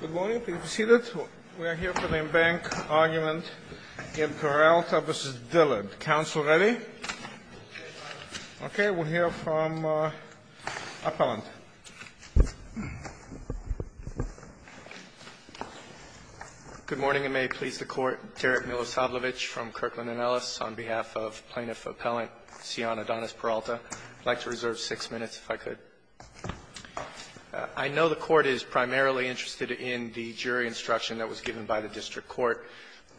Good morning. Please be seated. We are here for the embankment argument in Peralta v. Dillard. Council ready? Okay. We'll hear from Appellant. Good morning, and may it please the Court. Derek Milosavljevic from Kirkland & Ellis on behalf of Plaintiff Appellant Cion Adonis Peralta. I'd like to reserve six minutes if I could. I know the Court is primarily interested in the jury instruction that was given by the district court,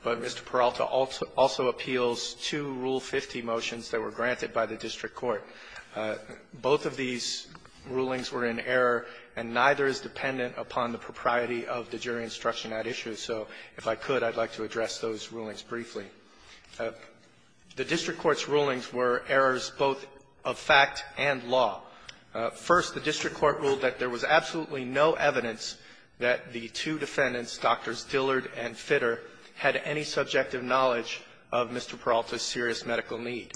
but Mr. Peralta also appeals two Rule 50 motions that were granted by the district court. Both of these rulings were in error, and neither is dependent upon the propriety of the jury instruction at issue. So if I could, I'd like to address those rulings briefly. The district court's rulings were errors both of fact and law. First, the district court ruled that there was absolutely no evidence that the two defendants, Drs. Dillard and Fitter, had any subjective knowledge of Mr. Peralta's serious medical need.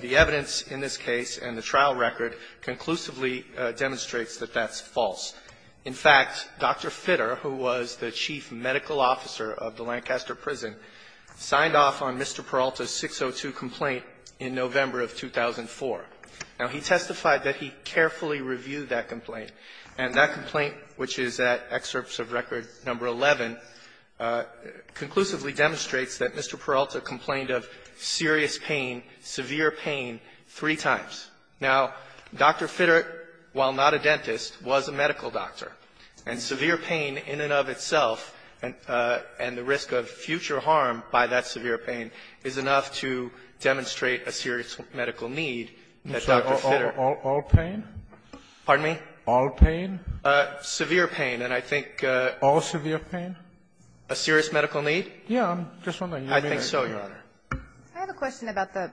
The evidence in this case and the trial record conclusively demonstrates that that's false. In fact, Dr. Fitter, who was the chief medical officer of the Lancaster prison, signed off on Mr. Peralta's 602 complaint in November of 2004. Now, he testified that he carefully reviewed that complaint, and that complaint, which is at excerpts of Record No. 11, conclusively demonstrates that Mr. Peralta complained of serious pain, severe pain, three times. Now, Dr. Fitter, while not a dentist, was a medical doctor, and severe pain in and of itself, and the risk of future harm by that severe pain is enough to demonstrate a serious medical need that Dr. Fitter ---- Sotomayor, all pain? Pardon me? All pain? Severe pain. And I think ---- All severe pain? A serious medical need? Yes. I'm just wondering. I think so, Your Honor. I have a question about the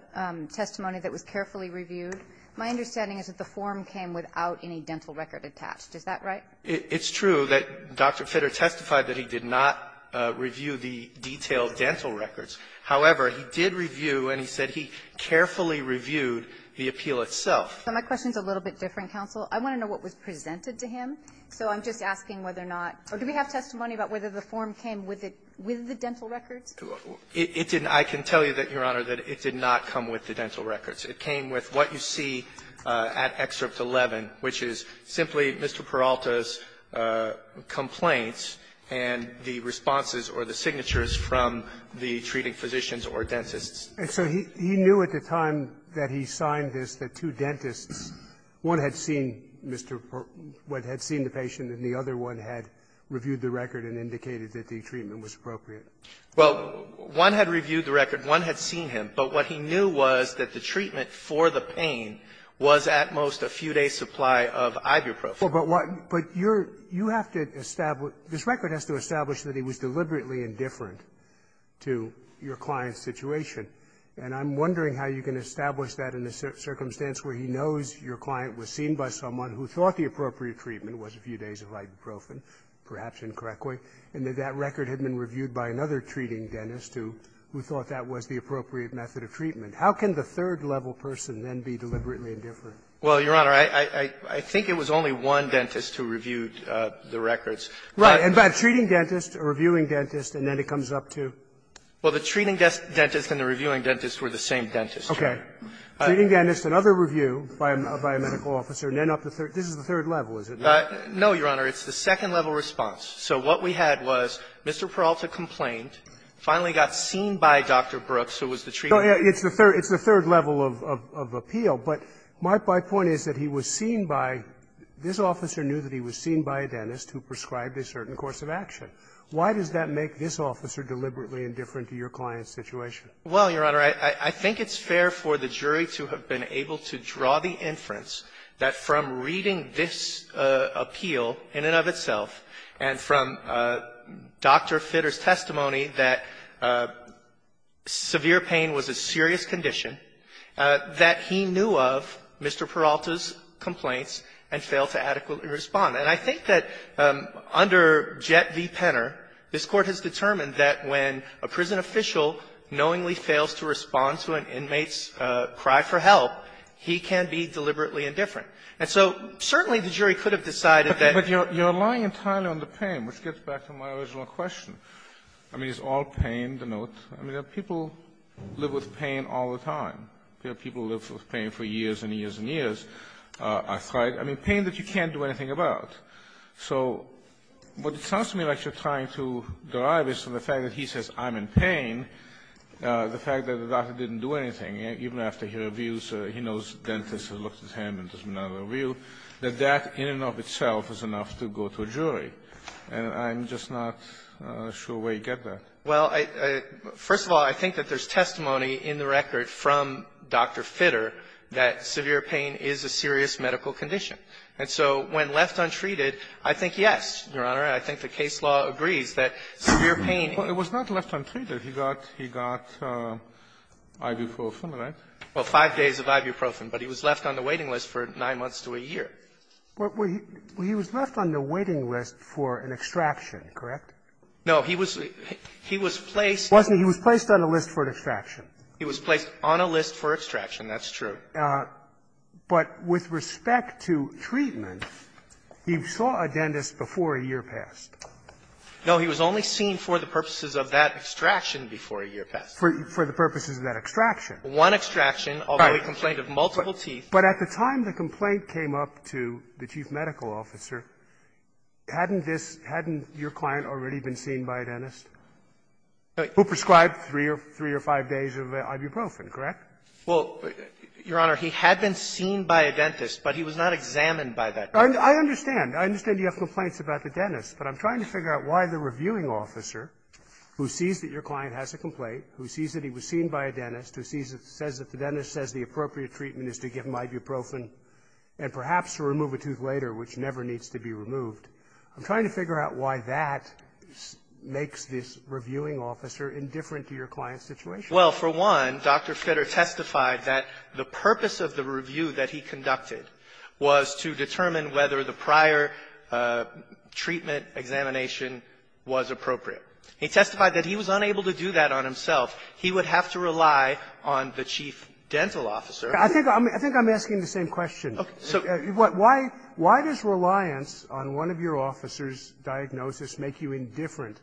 testimony that was carefully reviewed. My understanding is that the form came without any dental record attached. Is that right? It's true that Dr. Fitter testified that he did not review the detailed dental records. However, he did review, and he said he carefully reviewed the appeal itself. So my question is a little bit different, counsel. I want to know what was presented to him. So I'm just asking whether or not or do we have testimony about whether the form came with the dental records? It didn't. I can tell you that, Your Honor, that it did not come with the dental records. It came with what you see at Excerpt 11, which is simply Mr. Peralta's complaints and the responses or the signatures from the treating physicians or dentists. And so he knew at the time that he signed this that two dentists, one had seen Mr. Peralta, had seen the patient, and the other one had reviewed the record and indicated that the treatment was appropriate. Well, one had reviewed the record. One had seen him. But what he knew was that the treatment for the pain was at most a few-day supply of ibuprofen. But what you're you have to establish this record has to establish that he was deliberately indifferent to your client's situation. And I'm wondering how you can establish that in a circumstance where he knows your client was seen by someone who thought the appropriate treatment was a few days of ibuprofen, perhaps incorrectly, and that that record had been reviewed by another treating dentist who thought that was the appropriate method of treatment. How can the third-level person then be deliberately indifferent? Well, Your Honor, I think it was only one dentist who reviewed the records. Right. And by treating dentist or reviewing dentist, and then it comes up to? Well, the treating dentist and the reviewing dentist were the same dentist. Okay. Treating dentist, another review by a medical officer, and then up to third. This is the third level, is it not? No, Your Honor. It's the second-level response. So what we had was Mr. Peralta complained, finally got seen by Dr. Brooks, who was the treating dentist. It's the third level of appeal. But my point is that he was seen by this officer knew that he was seen by a dentist who prescribed a certain course of action. Why does that make this officer deliberately indifferent to your client's situation? Well, Your Honor, I think it's fair for the jury to have been able to draw the inference that from reading this appeal in and of itself, and from Dr. Fitter's testimony that severe pain was a serious condition, that he knew of Mr. Peralta's complaints and failed to adequately respond. And I think that under Jett v. Penner, this Court has determined that when a prison official knowingly fails to respond to an inmate's cry for help, he can be deliberately indifferent. And so certainly the jury could have decided that you're lying entirely on the pain, which gets back to my original question. I mean, it's all pain, the note. I mean, people live with pain all the time. People live with pain for years and years and years. I mean, pain that you can't do anything about. So what it sounds to me like you're trying to derive is from the fact that he says I'm in pain, the fact that the doctor didn't do anything, even after he reviews it, he knows dentists have looked at him and there's been another review, that that in and of itself is enough to go to a jury, and I'm just not sure where you get that. Well, first of all, I think that there's testimony in the record from Dr. Fitter that severe pain is a serious medical condition. And so when left untreated, I think yes, Your Honor. I think the case law agrees that severe pain --- Well, it was not left untreated. He got IV for a fulminant. Well, five days of ibuprofen. But he was left on the waiting list for nine months to a year. Well, he was left on the waiting list for an extraction, correct? No. He was placed- He was placed on a list for an extraction. He was placed on a list for extraction. That's true. But with respect to treatment, he saw a dentist before a year passed. No. For the purposes of that extraction. One extraction, although he complained of multiple teeth. But at the time the complaint came up to the chief medical officer, hadn't this -- hadn't your client already been seen by a dentist who prescribed three or five days of ibuprofen, correct? Well, Your Honor, he had been seen by a dentist, but he was not examined by that dentist. I understand. I understand you have complaints about the dentist, but I'm trying to figure out why the reviewing officer, who sees that your client has a complaint, who sees that he was seen by a dentist, who sees it, says that the dentist says the appropriate treatment is to give him ibuprofen and perhaps to remove a tooth later, which never needs to be removed. I'm trying to figure out why that makes this reviewing officer indifferent to your client's situation. Well, for one, Dr. Fitter testified that the purpose of the review that he conducted was to determine whether the prior treatment examination was appropriate. He testified that he was unable to do that on himself. He would have to rely on the chief dental officer. I think I'm asking the same question. Okay. So why does reliance on one of your officers' diagnosis make you indifferent?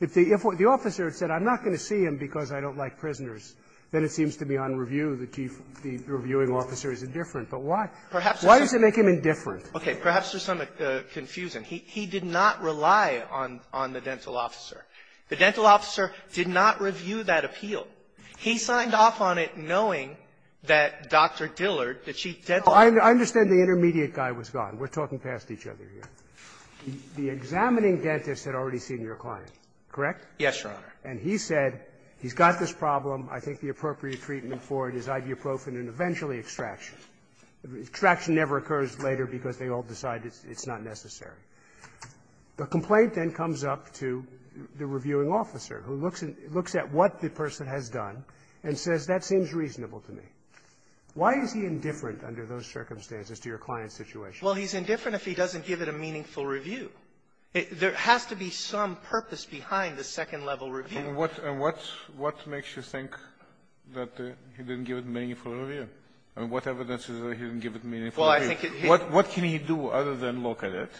If the officer had said, I'm not going to see him because I don't like prisoners, then it seems to me on review the chief of the reviewing officer is indifferent. But why? Why does it make him indifferent? Okay. Perhaps there's some confusion. He did not rely on the dental officer. The dental officer did not review that appeal. He signed off on it knowing that Dr. Dillard, the chief dental officer was not there. I understand the intermediate guy was gone. We're talking past each other here. The examining dentist had already seen your client, correct? Yes, Your Honor. And he said he's got this problem. I think the appropriate treatment for it is ibuprofen and eventually extraction. Extraction never occurs later because they all decide it's not necessary. The complaint then comes up to the reviewing officer who looks at what the person has done and says, that seems reasonable to me. Why is he indifferent under those circumstances to your client's situation? Well, he's indifferent if he doesn't give it a meaningful review. There has to be some purpose behind the second-level review. And what makes you think that he didn't give it a meaningful review? I mean, what evidence is there that he didn't give it a meaningful review? Well, I think it's his own. What can he do other than look at it?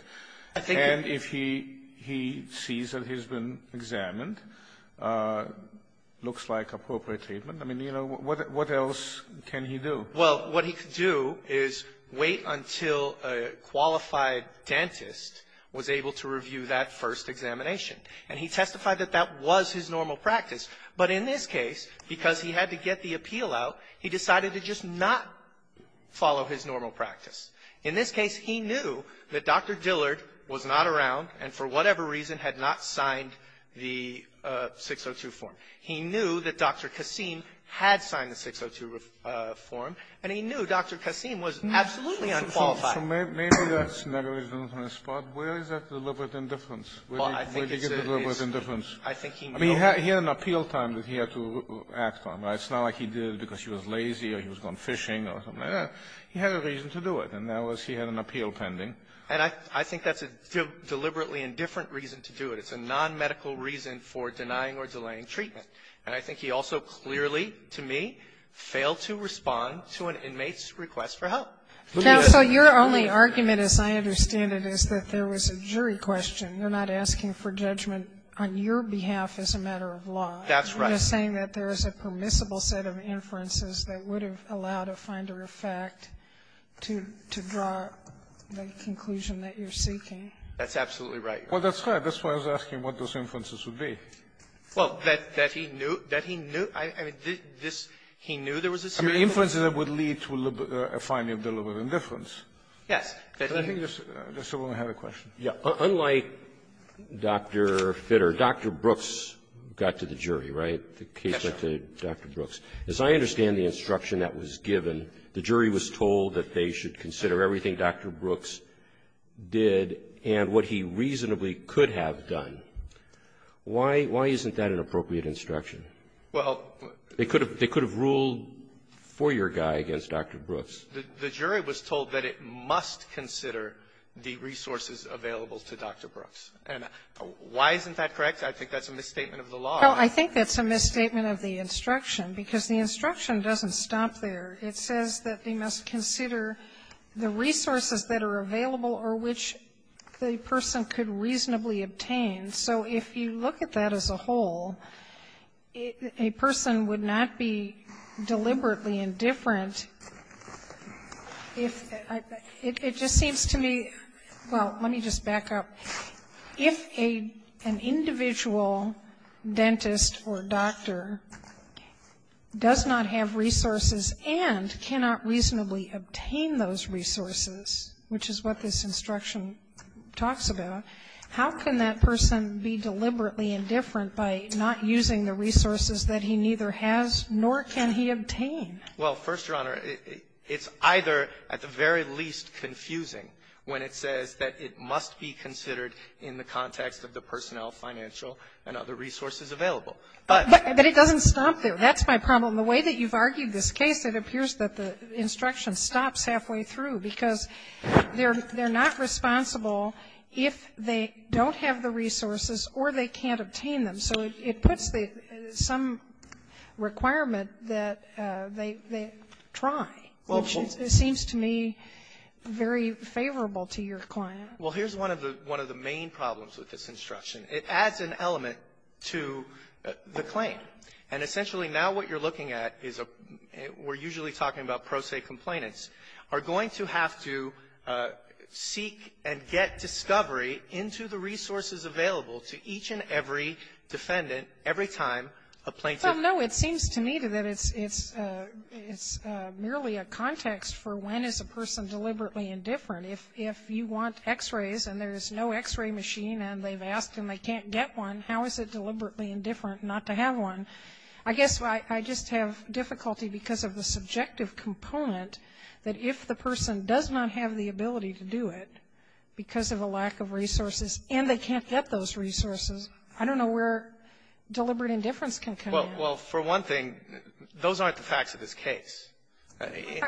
And if he sees that he's been examined, looks like appropriate treatment, I mean, you know, what else can he do? Well, what he can do is wait until a qualified dentist was able to review that first examination. And he testified that that was his normal practice. But in this case, because he had to get the appeal out, he decided to just not follow his normal practice. In this case, he knew that Dr. Dillard was not around and for whatever reason had not signed the 602 form. He knew that Dr. Kassim had signed the 602 form, and he knew Dr. Kassim was absolutely unqualified. So maybe that's another reason on his part. Where is that deliberate indifference? Where do you get deliberate indifference? I think he knew. I mean, he had an appeal time that he had to act on, right? It's not like he did it because he was lazy or he was gone fishing or something like that. He had a reason to do it, and that was he had an appeal pending. And I think that's a deliberately indifferent reason to do it. It's a nonmedical reason for denying or delaying treatment. And I think he also clearly, to me, failed to respond to an inmate's request for help. Now, so your only argument, as I understand it, is that there was a jury question. You're not asking for judgment on your behalf as a matter of law. That's right. I'm just saying that there is a permissible set of inferences that would have allowed a finder of fact to draw the conclusion that you're seeking. That's absolutely right. Well, that's right. That's why I was asking what those inferences would be. Well, that he knew that he knew. I mean, this he knew there was a jury question. I mean, inferences that would lead to a finding of deliberate indifference. Yes. But I think there's someone who had a question. Yeah. Unlike Dr. Fitter, Dr. Brooks got to the jury, right? The case went to Dr. Brooks. As I understand the instruction that was given, the jury was told that they should consider everything Dr. Brooks did and what he reasonably could have done. Why isn't that an appropriate instruction? Well, they could have ruled for your guy against Dr. Brooks. The jury was told that it must consider the resources available to Dr. Brooks. And why isn't that correct? I think that's a misstatement of the law. Well, I think that's a misstatement of the instruction, because the instruction doesn't stop there. It says that they must consider the resources that are available or which the person could reasonably obtain. So if you look at that as a whole, a person would not be deliberately indifferent if they — it just seems to me — well, let me just back up. If an individual dentist or doctor does not have resources and cannot reasonably obtain those resources, which is what this instruction talks about, how can that person be deliberately indifferent by not using the resources that he neither has nor can he obtain? Well, First Your Honor, it's either at the very least confusing when it says that it must be considered in the context of the personnel, financial, and other resources available. But — But it doesn't stop there. That's my problem. The way that you've argued this case, it appears that the instruction stops halfway through, because they're not responsible if they don't have the resources or they can't obtain them. So it puts some requirement that they try, which seems to me very favorable to your client. Well, here's one of the main problems with this instruction. It adds an element to the claim. And essentially, now what you're looking at is a — we're usually talking about going to have to seek and get discovery into the resources available to each and every defendant every time a plaintiff — Well, no. It seems to me that it's — it's merely a context for when is a person deliberately indifferent. If — if you want X-rays and there's no X-ray machine and they've asked and they can't get one, how is it deliberately indifferent not to have one? I guess I just have difficulty because of the subjective component that if the person does not have the ability to do it because of a lack of resources and they can't get those resources, I don't know where deliberate indifference can come in. Well, for one thing, those aren't the facts of this case.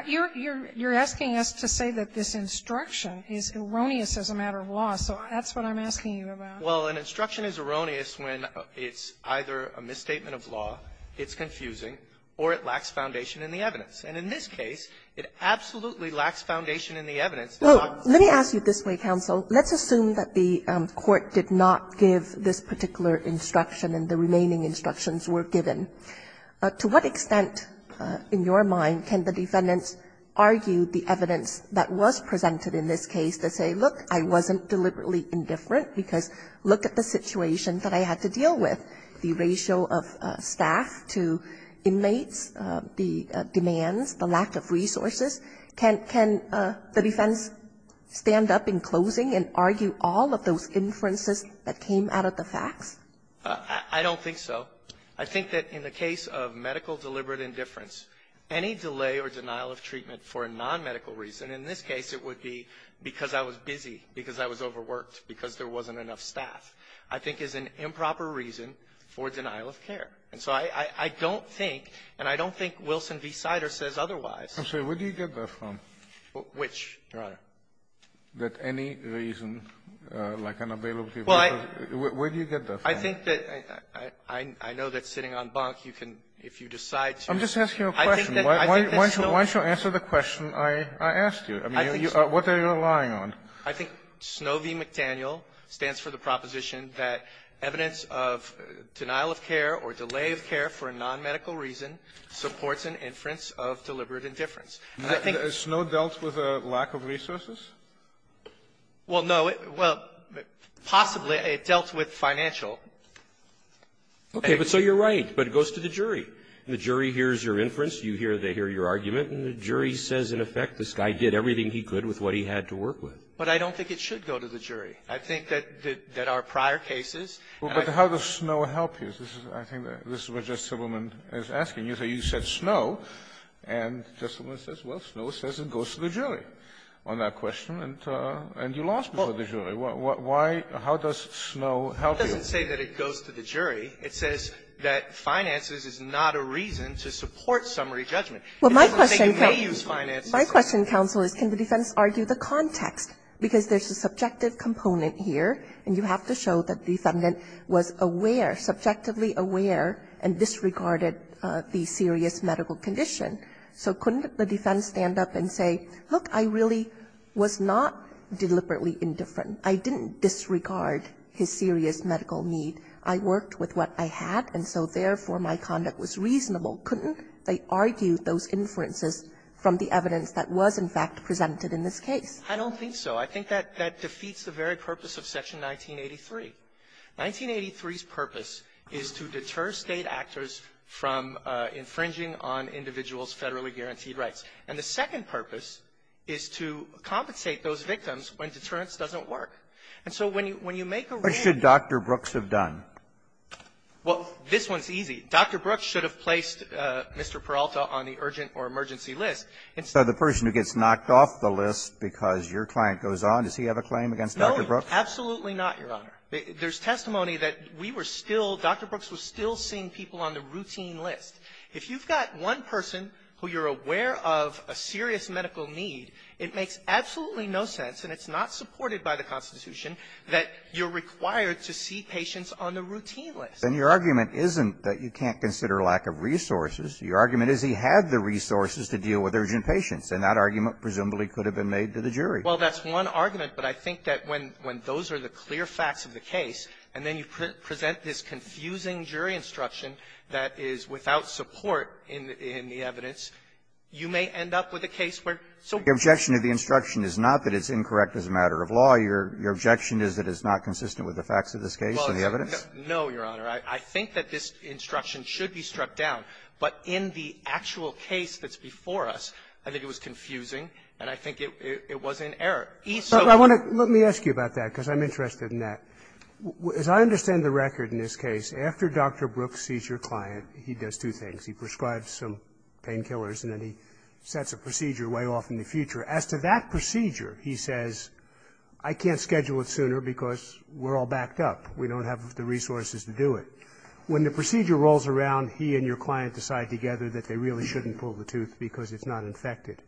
You're — you're asking us to say that this instruction is erroneous as a matter of law, so that's what I'm asking you about. Well, an instruction is erroneous when it's either a misstatement of law, it's confusing, or it lacks foundation in the evidence. And in this case, it absolutely lacks foundation in the evidence. Well, let me ask you this way, counsel. Let's assume that the court did not give this particular instruction and the remaining instructions were given. To what extent, in your mind, can the defendants argue the evidence that was presented in this case to say, look, I wasn't deliberately indifferent because look at the situation that I had to deal with, the ratio of staff to inmates, the demands, the lack of resources, can — can the defense stand up in closing and argue all of those inferences that came out of the facts? I don't think so. I think that in the case of medical deliberate indifference, any delay or denial of treatment for a non-medical reason, in this case it would be because I was busy, because I was overworked, because there wasn't enough staff, I think is an improper reason for denial of care. And so I don't think, and I don't think Wilson v. Sider says otherwise. I'm sorry. Where do you get that from? Which, Your Honor? That any reason, like unavailability of medical — Well, I — Where do you get that from? I think that — I know that sitting on bunk, you can, if you decide to — I'm just asking you a question. I think that Snow v. McDaniel — Why don't you answer the question I asked you? I mean, what are you relying on? I think Snow v. McDaniel stands for the proposition that evidence of denial of care or delay of care for a non-medical reason supports an inference of deliberate indifference. And I think — Has Snow dealt with a lack of resources? Well, no. Well, possibly it dealt with financial. Okay. But so you're right. But it goes to the jury. And the jury hears your inference. You hear — they hear your argument. And the jury says, in effect, this guy did everything he could with what he had to work with. But I don't think it should go to the jury. I think that our prior cases — Well, but how does Snow help you? This is — I think this is what Justice Sibelman is asking you. So you said Snow. And Justice Sibelman says, well, Snow says it goes to the jury on that question. And you lost before the jury. Why — how does Snow help you? It doesn't say that it goes to the jury. It says that finances is not a reason to support summary judgment. It doesn't say you may use finances. My question, counsel, is can the defense argue the context? Because there's a subjective component here. And you have to show that the defendant was aware, subjectively aware, and disregarded the serious medical condition. So couldn't the defense stand up and say, look, I really was not deliberately indifferent. I didn't disregard his serious medical need. I worked with what I had, and so, therefore, my conduct was reasonable. Couldn't they argue those inferences from the evidence that was, in fact, presented in this case? I don't think so. I think that defeats the very purpose of Section 1983. 1983's purpose is to deter State actors from infringing on individuals' federally guaranteed rights. And the second purpose is to compensate those victims when deterrence doesn't work. And so when you make a — What should Dr. Brooks have done? Well, this one's easy. Dr. Brooks should have placed Mr. Peralta on the urgent or emergency list. So the person who gets knocked off the list because your client goes on, does he have a claim against Dr. Brooks? No, absolutely not, Your Honor. There's testimony that we were still — Dr. Brooks was still seeing people on the routine list. If you've got one person who you're aware of a serious medical need, it makes absolutely no sense, and it's not supported by the Constitution, that you're required to see patients on the routine list. Then your argument isn't that you can't consider lack of resources. Your argument is he had the resources to deal with urgent patients, and that argument presumably could have been made to the jury. Well, that's one argument. But I think that when those are the clear facts of the case, and then you present this confusing jury instruction that is without support in the evidence, you may end up with a case where — Your objection to the instruction is not that it's incorrect as a matter of law. No, Your Honor. I think that this instruction should be struck down. But in the actual case that's before us, I think it was confusing, and I think it was inerrant. So — But I want to — let me ask you about that, because I'm interested in that. As I understand the record in this case, after Dr. Brooks sees your client, he does two things. He prescribes some painkillers, and then he sets a procedure way off in the future. As to that procedure, he says, I can't schedule it sooner because we're all backed up. We don't have the resources to do it. When the procedure rolls around, he and your client decide together that they really shouldn't pull the tooth because it's not infected.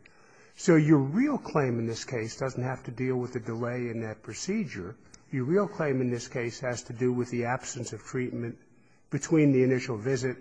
So your real claim in this case doesn't have to deal with the delay in that procedure. Your real claim in this case has to do with the absence of treatment between the initial visit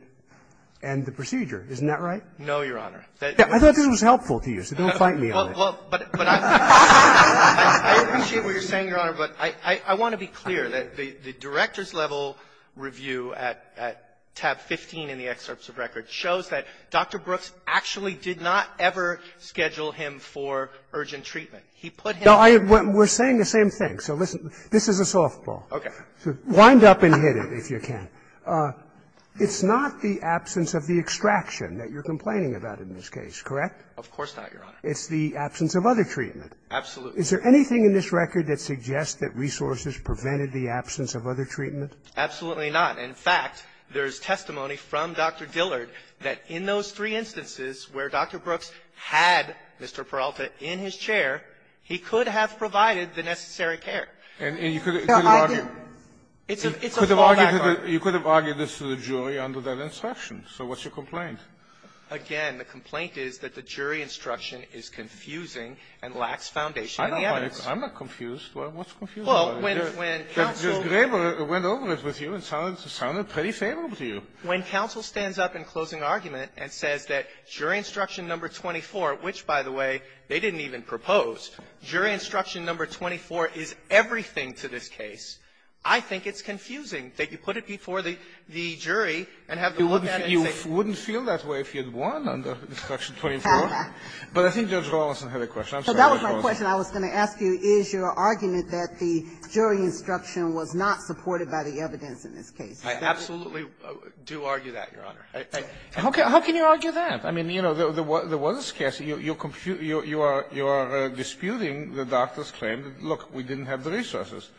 and the procedure. Isn't that right? No, Your Honor. I thought this was helpful to you, so don't fight me on it. Well, but I appreciate what you're saying, Your Honor, but I want to be clear that the director's level review at tab 15 in the excerpts of record shows that Dr. Brooks actually did not ever schedule him for urgent treatment. He put him — No, I — we're saying the same thing. So listen. This is a softball. Okay. So wind up and hit it, if you can. It's not the absence of the extraction that you're complaining about in this case, correct? Of course not, Your Honor. It's the absence of other treatment. Absolutely. Is there anything in this record that suggests that resources prevented the absence of other treatment? Absolutely not. In fact, there's testimony from Dr. Dillard that in those three instances where Dr. Brooks had Mr. Peralta in his chair, he could have provided the necessary care. And you could have argued — No, I didn't. It's a fallback argument. You could have argued this to the jury under that instruction. So what's your complaint? Again, the complaint is that the jury instruction is confusing and lacks foundation in the evidence. I'm not confused. What's confusing? Well, when counsel — But Ms. Graber went over it with you and sounded pretty favorable to you. When counsel stands up in closing argument and says that jury instruction number 24, which, by the way, they didn't even propose, jury instruction number 24 is everything to this case, I think it's confusing that you put it before the jury and have them look at it and say — You wouldn't feel that way if you had won under instruction 24. But I think Judge Rolison had a question. I'm sorry. That was my question. I was going to ask you, is your argument that the jury instruction was not supported by the evidence in this case? I absolutely do argue that, Your Honor. How can you argue that? I mean, you know, there was this case. You're disputing the doctor's claim that, look, we didn't have the resources.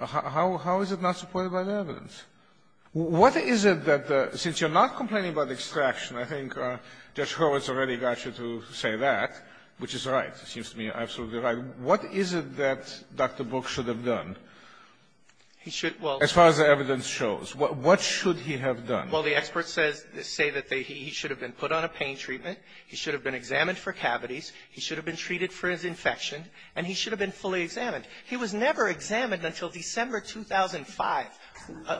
How is it not supported by the evidence? What is it that the — since you're not complaining about extraction, I think Judge Horwitz already got you to say that, which is right. It seems to me absolutely right. What is it that Dr. Brooks should have done as far as the evidence shows? What should he have done? Well, the experts say that he should have been put on a pain treatment. He should have been examined for cavities. He should have been treated for his infection. And he should have been fully examined. He was never examined until December 2005.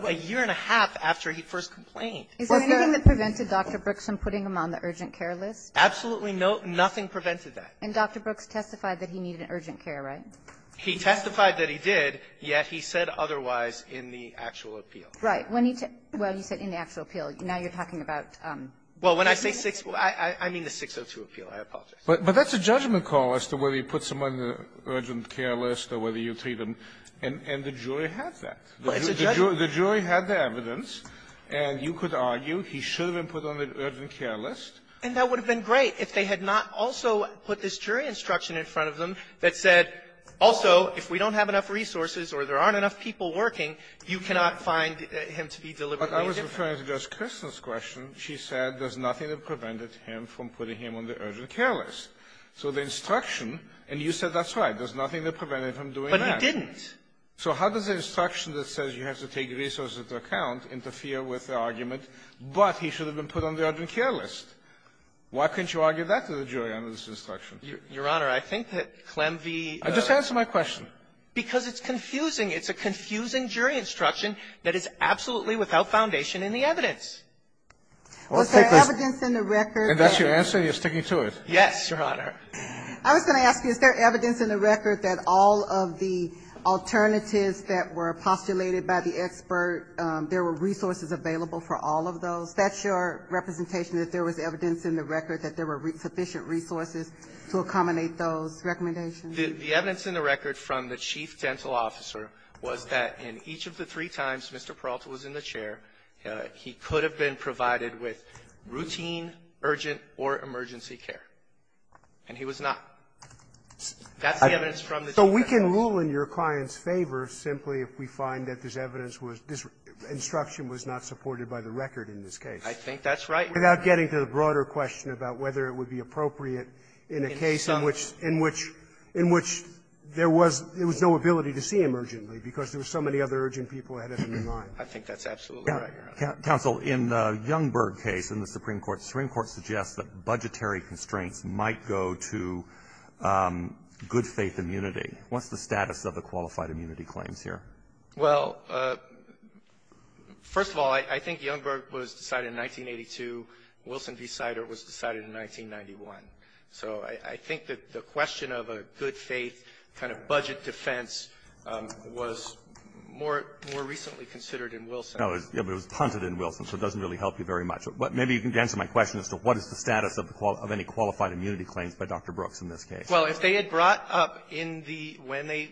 A year and a half after he first complained. Is there anything that prevented Dr. Brooks from putting him on the urgent care list? Absolutely no. Nothing prevented that. And Dr. Brooks testified that he needed an urgent care, right? He testified that he did, yet he said otherwise in the actual appeal. Right. When he — well, you said in the actual appeal. Now you're talking about — Well, when I say six — I mean the 602 appeal. I apologize. But that's a judgment call as to whether you put someone on the urgent care list or whether you treat them. And the jury has that. Well, it's a judgment. The jury had the evidence. And you could argue he should have been put on the urgent care list. And that would have been great if they had not also put this jury instruction in front of them that said, also, if we don't have enough resources or there aren't enough people working, you cannot find him to be deliberately indifferent. But I was referring to Justice Kirsten's question. She said there's nothing that prevented him from putting him on the urgent care list. So the instruction — and you said that's right. There's nothing that prevented him from doing that. But he didn't. So how does an instruction that says you have to take resources into account interfere with the argument, but he should have been put on the urgent care list? Why couldn't you argue that to the jury under this instruction? Your Honor, I think that Clem v. I just answered my question. Because it's confusing. It's a confusing jury instruction that is absolutely without foundation in the evidence. Was there evidence in the record that — And that's your answer? You're sticking to it? Yes, Your Honor. I was going to ask you, is there evidence in the record that all of the alternatives that were postulated by the expert, there were resources available for all of those? That's your representation, that there was evidence in the record that there were sufficient resources to accommodate those recommendations? The evidence in the record from the chief dental officer was that in each of the three times Mr. Peralta was in the chair, he could have been provided with routine, urgent, or emergency care. And he was not. That's the evidence from the chief dental officer. So we can rule in your client's favor simply if we find that this evidence was — this instruction was not supported by the record in this case. I think that's right, Your Honor. Without getting to the broader question about whether it would be appropriate in a case in which — in which — in which there was — there was no ability to see him urgently, because there were so many other urgent people ahead of him in line. I think that's absolutely right, Your Honor. Counsel, in the Youngberg case in the Supreme Court, the Supreme Court suggests that budgetary constraints might go to good-faith immunity. What's the status of the qualified immunity claims here? Well, first of all, I think Youngberg was decided in 1982. Wilson v. Sider was decided in 1991. So I think that the question of a good-faith kind of budget defense was more — more recently considered in Wilson. No, but it was punted in Wilson, so it doesn't really help you very much. But maybe you can answer my question as to what is the status of the — of any qualified immunity claims by Dr. Brooks in this case. Well, if they had brought up in the — when they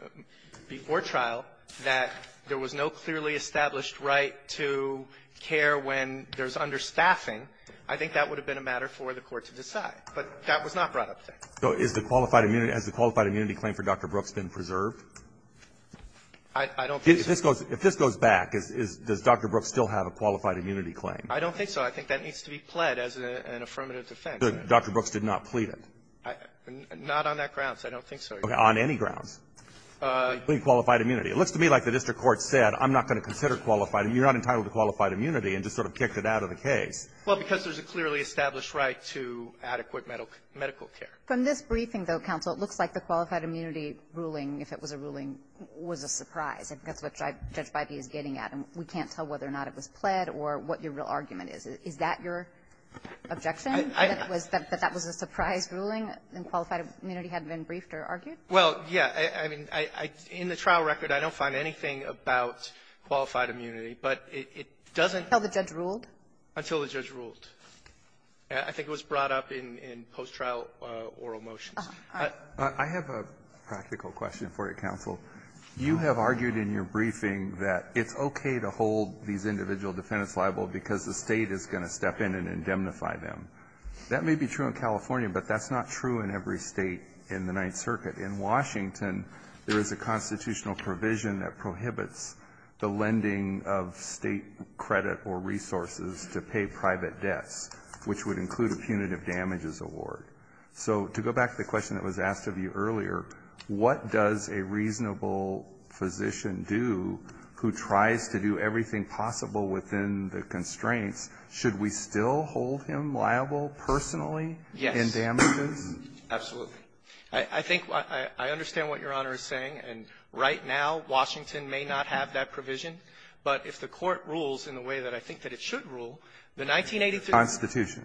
— before trial that there was no clearly established right to care when there's understaffing, I think that would have been a matter for the Court to decide. But that was not brought up there. So is the qualified immunity — has the qualified immunity claim for Dr. Brooks been preserved? I don't think so. If this goes back, does Dr. Brooks still have a qualified immunity claim? I don't think so. I think that needs to be pled as an affirmative defense. Dr. Brooks did not plead it? Not on that grounds. I don't think so. Okay. On any grounds? Pleading qualified immunity. It looks to me like the district court said, I'm not going to consider qualified — you're not entitled to qualified immunity, and just sort of kicked it out of the case. Well, because there's a clearly established right to adequate medical care. From this briefing, though, counsel, it looks like the qualified immunity ruling, if it was a ruling, was a surprise. That's what Judge Bybee is getting at. And we can't tell whether or not it was pled or what your real argument is. Is that your objection, that that was a surprise ruling and qualified immunity hadn't been briefed or argued? Well, yeah. I mean, in the trial record, I don't find anything about qualified immunity. But it doesn't — Until the judge ruled? Until the judge ruled. I think it was brought up in post-trial oral motions. I have a practical question for you, counsel. You have argued in your briefing that it's okay to hold these individual defendants liable because the State is going to step in and indemnify them. That may be true in California, but that's not true in every State in the Ninth Circuit. In Washington, there is a constitutional provision that prohibits the lending of State credit or resources to pay private debts, which would include a punitive damages award. So to go back to the question that was asked of you earlier, what does a reasonable physician do who tries to do everything possible within the constraints? Should we still hold him liable personally in damages? Yes. Absolutely. I think I understand what Your Honor is saying. And right now, Washington may not have that provision. But if the Court rules in the way that I think that it should rule, the 1983 — Constitution.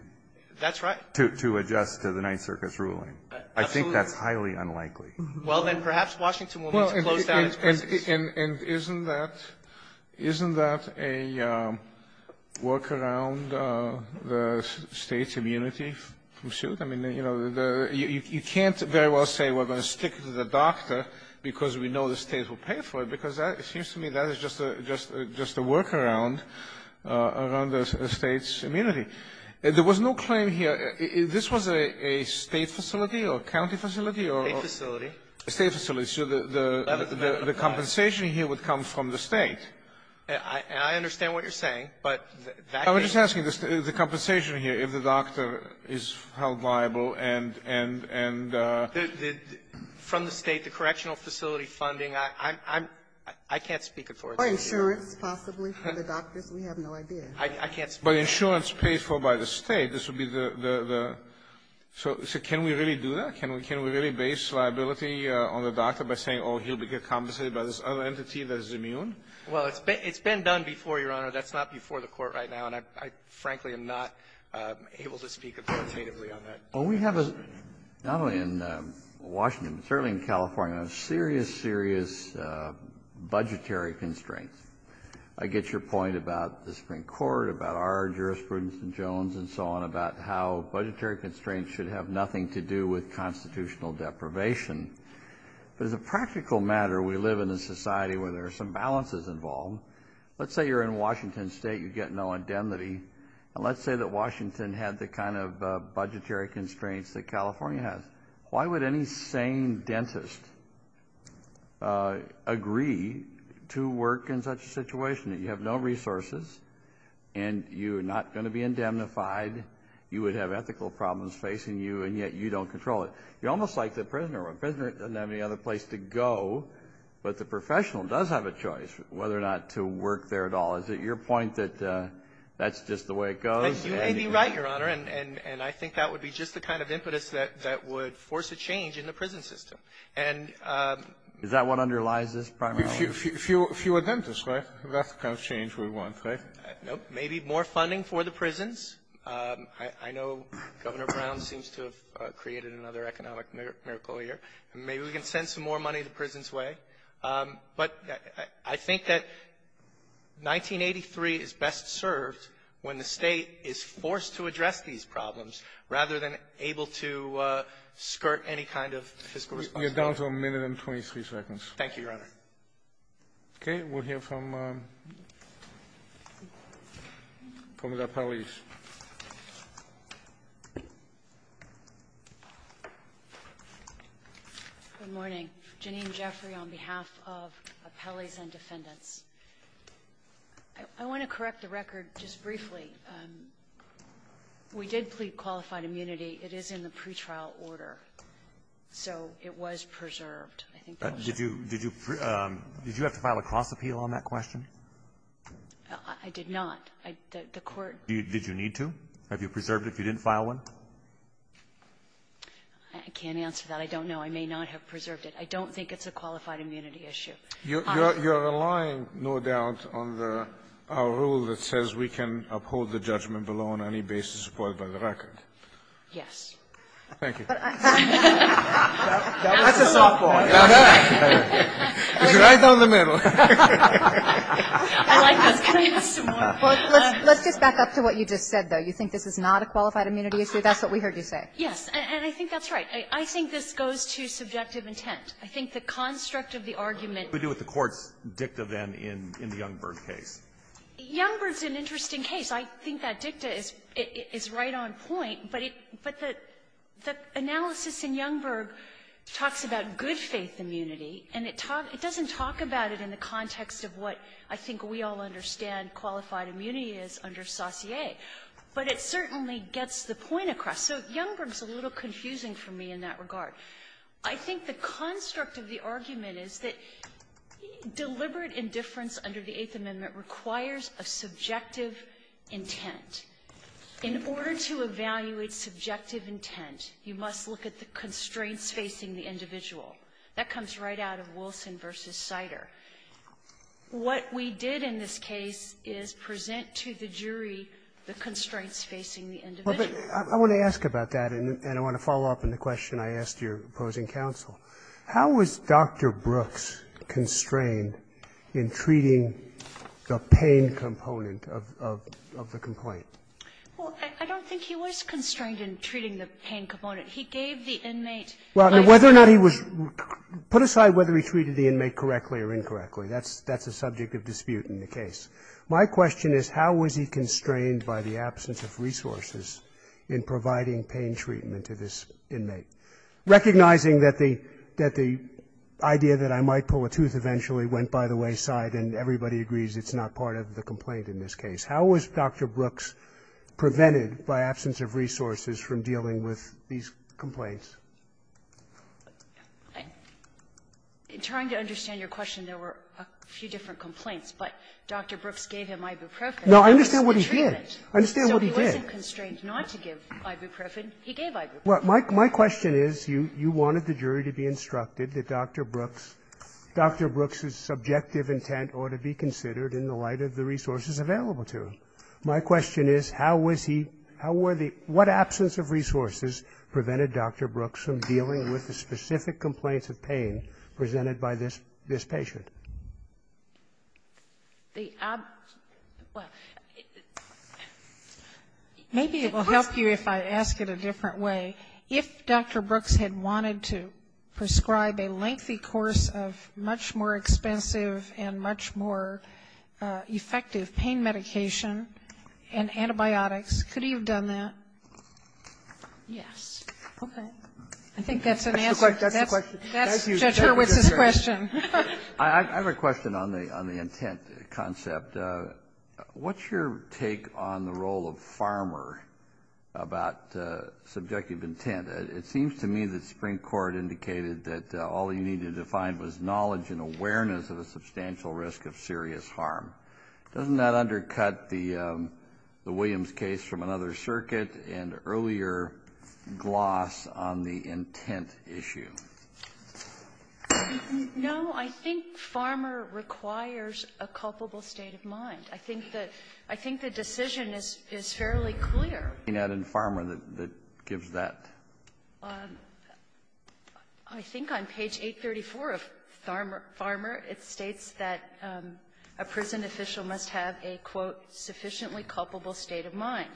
That's right. To adjust to the Ninth Circuit's ruling. I think that's highly unlikely. Well, then, perhaps Washington will need to close down its prisons. And isn't that a workaround the State's immunity from suit? I mean, you know, you can't very well say we're going to stick to the doctor because we know the State will pay for it, because it seems to me that is just a — just a workaround around the State's immunity. There was no claim here. This was a State facility or a county facility or — State facility. State facility. So the compensation here would come from the State. I understand what you're saying, but that — I'm just asking the compensation here, if the doctor is held liable and — From the State, the correctional facility funding, I'm — I can't speak for it. Or insurance, possibly, for the doctors. We have no idea. I can't speak for it. But insurance paid for by the State, this would be the — so can we really do that? Can we really base liability on the doctor by saying, oh, he'll be compensated by this other entity that is immune? Well, it's been done before, Your Honor. That's not before the Court right now. And I, frankly, am not able to speak authoritatively on that. Well, we have a — not only in Washington, but certainly in California, a serious, serious budgetary constraint. I get your point about the Supreme Court, about our jurisprudence in Jones, and so on, about how budgetary constraints should have nothing to do with constitutional deprivation. But as a practical matter, we live in a society where there are some balances involved. Let's say you're in Washington State, you get no indemnity, and let's say that Washington had the kind of budgetary constraints that California has. Why would any sane dentist agree to work in such a situation that you have no resources, and you're not going to be indemnified, you would have ethical problems facing you, and yet you don't control it? You're almost like the prisoner. A prisoner doesn't have any other place to go, but the professional does have a choice whether or not to work there at all. Is it your point that that's just the way it goes? You may be right, Your Honor, and I think that would be just the kind of impetus that would force a change in the prison system. And ---- Is that what underlies this primarily? Fewer dentists, right? That's the kind of change we want, right? No. Maybe more funding for the prisons. I know Governor Brown seems to have created another economic miracle here. Maybe we can send some more money to prisons way. But I think that 1983 is best served when the State is forced to address these to skirt any kind of fiscal responsibility. You're down to a minute and 23 seconds. Thank you, Your Honor. Okay. We'll hear from the appellees. Good morning. Jeanine Jeffrey on behalf of appellees and defendants. I want to correct the record just briefly. We did plead qualified immunity. It is in the pretrial order, so it was preserved, I think. Did you have to file a cross-appeal on that question? I did not. The Court ---- Did you need to? Have you preserved it if you didn't file one? I can't answer that. I don't know. I may not have preserved it. I don't think it's a qualified immunity issue. You're relying, no doubt, on our rule that says we can uphold the judgment below on any basis supported by the record. Yes. Thank you. That's a softball. It's right down the middle. I like this. Can I have some more? Let's just back up to what you just said, though. You think this is not a qualified immunity issue? That's what we heard you say. Yes. And I think that's right. I think this goes to subjective intent. I think the construct of the argument ---- What do we do with the Court's dicta, then, in the Youngberg case? Youngberg's an interesting case. I think that dicta is right on point, but the analysis in Youngberg talks about good-faith immunity, and it doesn't talk about it in the context of what I think we all understand qualified immunity is under Saussure. But it certainly gets the point across. So Youngberg's a little confusing for me in that regard. I think the construct of the argument is that deliberate indifference under the Eighth Amendment requires a subjective intent. In order to evaluate subjective intent, you must look at the constraints facing the individual. That comes right out of Wilson v. Sider. What we did in this case is present to the jury the constraints facing the individual. But I want to ask about that, and I want to follow up on the question I asked your opposing counsel. How was Dr. Brooks constrained in treating the pain component of the complaint? Well, I don't think he was constrained in treating the pain component. He gave the inmate life support. Well, whether or not he was ---- put aside whether he treated the inmate correctly or incorrectly. That's a subject of dispute in the case. My question is how was he constrained by the absence of resources in providing pain treatment to this inmate? Recognizing that the idea that I might pull a tooth eventually went by the wayside and everybody agrees it's not part of the complaint in this case, how was Dr. Brooks prevented by absence of resources from dealing with these complaints? In trying to understand your question, there were a few different complaints. But Dr. Brooks gave him ibuprofen. No, I understand what he did. I understand what he did. So he wasn't constrained not to give ibuprofen. He gave ibuprofen. Well, my question is you wanted the jury to be instructed that Dr. Brooks' subjective intent ought to be considered in the light of the resources available to him. My question is how was he ---- how were the ---- what absence of resources prevented Dr. Brooks from dealing with the specific complaints of pain presented by this patient? The ---- well, maybe it will help you if I ask it a different way. If Dr. Brooks had wanted to prescribe a lengthy course of much more expensive and much more effective pain medication and antibiotics, could he have done that? Yes. Okay. I think that's an answer. That's Judge Hurwitz's question. I have a question on the intent concept. What's your take on the role of farmer about subjective intent? It seems to me that Supreme Court indicated that all you needed to find was knowledge and awareness of a substantial risk of serious harm. Doesn't that undercut the Williams case from another circuit and earlier gloss on the intent issue? No. I think farmer requires a culpable state of mind. I think that the decision is fairly clear. What do you have in farmer that gives that? I think on page 834 of farmer, it states that a prison official must have a, quote, sufficiently culpable state of mind.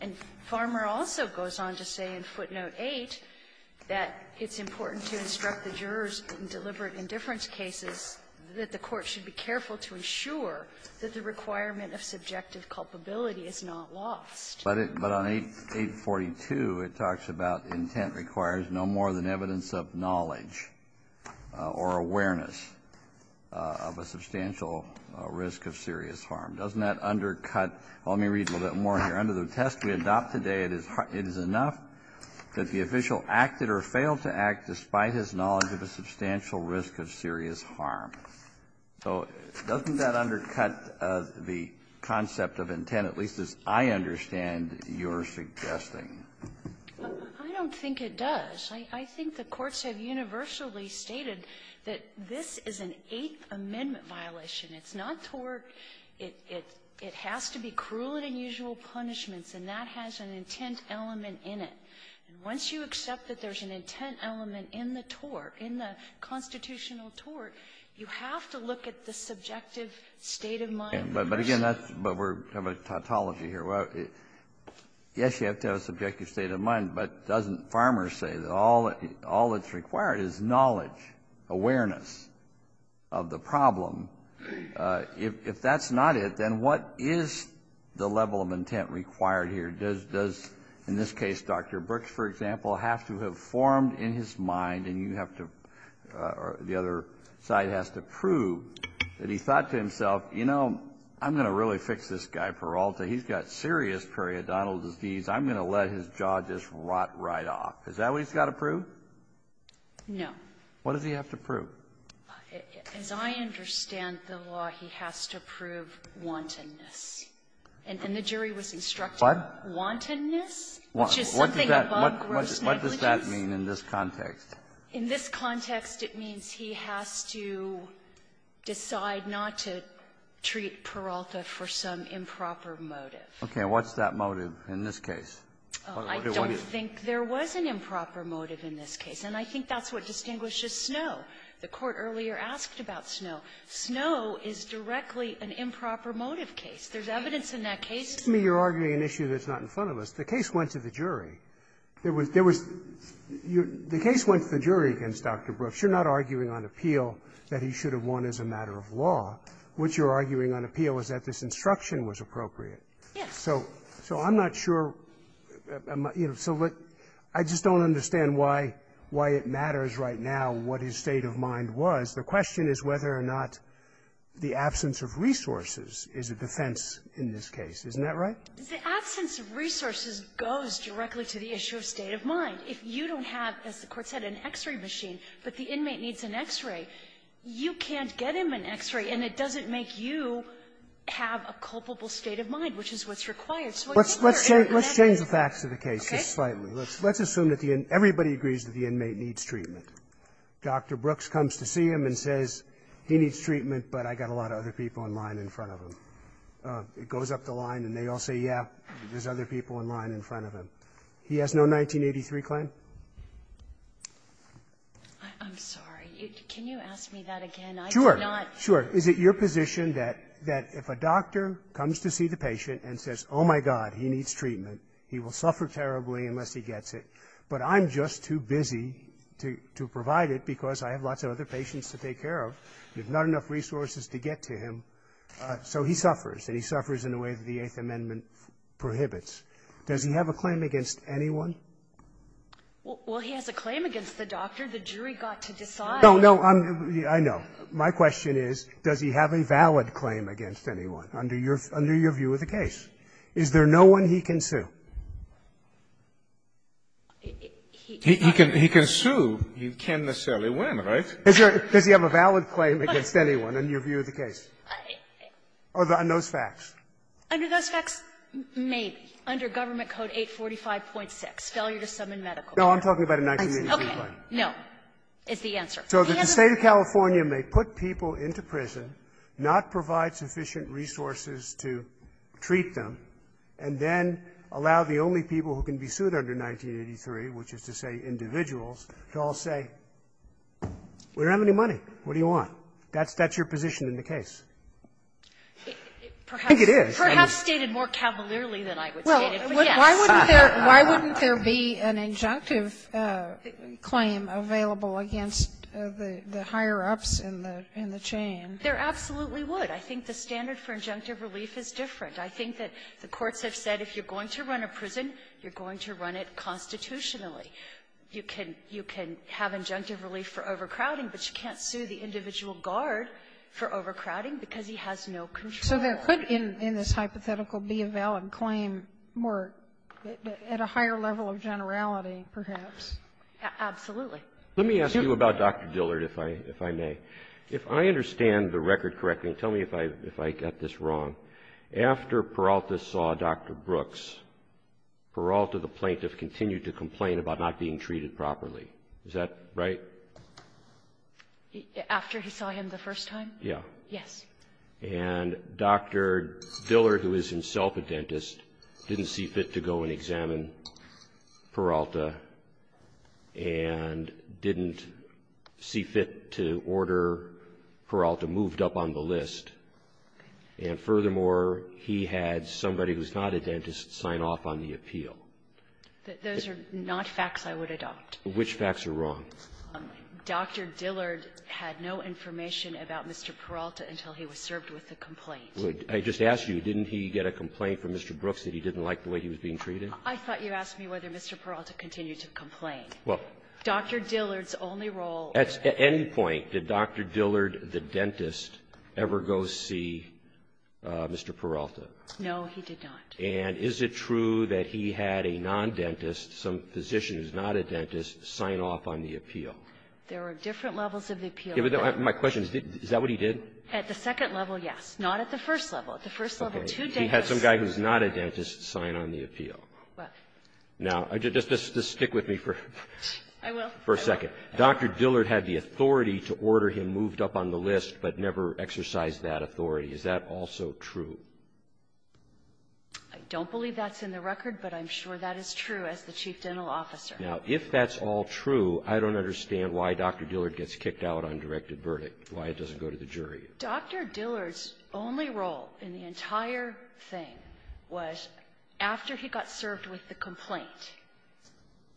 And farmer also goes on to say in footnote 8 that it's important to instruct the jurors in deliberate indifference cases that the court should be careful to ensure that the requirement of subjective culpability is not lost. But on 842, it talks about intent requires no more than evidence of knowledge or awareness of a substantial risk of serious harm. Doesn't that undercut – well, let me read a little bit more here. Under the test we adopt today, it is enough that the official acted or failed to act despite his knowledge of a substantial risk of serious harm. So doesn't that undercut the concept of intent, at least as I understand your suggesting? I don't think it does. I think the courts have universally stated that this is an Eighth Amendment violation. It's not tort. It has to be cruel and unusual punishments, and that has an intent element in it. And once you accept that there's an intent element in the tort, in the constitutional tort, you have to look at the subjective state of mind of the person. Kennedy, but again, that's – but we're talking about tautology here. Well, yes, you have to have a subjective state of mind, but doesn't farmer say that all that's required is knowledge, awareness of the problem? If that's not it, then what is the level of intent required here? Does – in this case, Dr. Brooks, for example, have to have formed in his mind and you have to – or the other side has to prove that he thought to himself, you know, I'm going to really fix this guy Peralta. He's got serious periodontal disease. I'm going to let his jaw just rot right off. Is that what he's got to prove? No. What does he have to prove? As I understand the law, he has to prove wantonness. And the jury was instructed. What? Wantonness, which is something above gross negligence. What does that mean in this context? In this context, it means he has to decide not to treat Peralta for some improper motive. Okay. What's that motive in this case? I don't think there was an improper motive in this case. And I think that's what distinguishes Snowe. The Court earlier asked about Snowe. Snowe is directly an improper motive case. There's evidence in that case. You're arguing an issue that's not in front of us. The case went to the jury. There was – there was – the case went to the jury against Dr. Brooks. You're not arguing on appeal that he should have won as a matter of law. What you're arguing on appeal is that this instruction was appropriate. Yes. So I'm not sure – so I just don't understand why it matters right now what his state of mind was. The question is whether or not the absence of resources is a defense in this case. Isn't that right? The absence of resources goes directly to the issue of state of mind. If you don't have, as the Court said, an X-ray machine, but the inmate needs an X-ray, you can't get him an X-ray, and it doesn't make you have a culpable state of mind, which is what's required. So what you're saying is that I have an X-ray, okay? Let's change the facts of the case just slightly. Let's assume that everybody agrees that the inmate needs treatment. Dr. Brooks comes to see him and says, he needs treatment, but I've got a lot of other people in line in front of him. It goes up the line, and they all say, yeah, there's other people in line in front of him. He has no 1983 claim? I'm sorry. Can you ask me that again? I do not – Sure. Is it your position that if a doctor comes to see the patient and says, oh, my God, he needs treatment, he will suffer terribly unless he gets it, but I'm just too busy to provide it because I have lots of other patients to take care of. There's not enough resources to get to him. So he suffers, and he suffers in a way that the Eighth Amendment prohibits. Does he have a claim against anyone? Well, he has a claim against the doctor. The jury got to decide. No, no. I know. My question is, does he have a valid claim against anyone, under your view of the case? Is there no one he can sue? He can sue. He can't necessarily win, right? Does he have a valid claim against anyone, in your view of the case, on those facts? Under those facts, maybe. Under Government Code 845.6, failure to summon medical care. No, I'm talking about a 1983 claim. Okay. No, is the answer. So that the State of California may put people into prison, not provide sufficient resources to treat them, and then allow the only people who can be sued under 1983, which is to say individuals, to all say, we don't have any money, what do you want? That's your position in the case. I think it is. Perhaps stated more cavalierly than I would say it, but yes. Sotomayor, why wouldn't there be an injunctive claim available against the higher ups in the chain? There absolutely would. I think the standard for injunctive relief is different. I think that the courts have said, if you're going to run a prison, you're going to run it constitutionally. You can have injunctive relief for overcrowding, but you can't sue the individual guard for overcrowding because he has no control. So there could, in this hypothetical, be a valid claim more at a higher level of generality, perhaps. Absolutely. Let me ask you about Dr. Dillard, if I may. If I understand the record correctly, tell me if I got this wrong. After Peralta saw Dr. Brooks, Peralta, the plaintiff, continued to complain about not being treated properly. Is that right? After he saw him the first time? Yeah. Yes. And Dr. Dillard, who is himself a dentist, didn't see fit to go and examine Peralta and didn't see fit to order Peralta moved up on the list. And furthermore, he had somebody who's not a dentist sign off on the appeal. Those are not facts I would adopt. Which facts are wrong? Dr. Dillard had no information about Mr. Peralta until he was served with a complaint. I just asked you, didn't he get a complaint from Mr. Brooks that he didn't like the way he was being treated? I thought you asked me whether Mr. Peralta continued to complain. Well — Dr. Dillard's only role — At any point, did Dr. Dillard, the dentist, ever go see Mr. Peralta? No, he did not. And is it true that he had a non-dentist, some physician who's not a dentist, sign off on the appeal? There are different levels of the appeal. My question is, is that what he did? At the second level, yes. Not at the first level. At the first level, two dentists — Okay. He had some guy who's not a dentist sign on the appeal. Right. Now, just stick with me for — I will. — for a second. Dr. Dillard had the authority to order him moved up on the list but never exercised that authority. Is that also true? I don't believe that's in the record, but I'm sure that is true as the Chief Dental Officer. Now, if that's all true, I don't understand why Dr. Dillard gets kicked out on directed verdict, why it doesn't go to the jury. Dr. Dillard's only role in the entire thing was, after he got served with the complaint,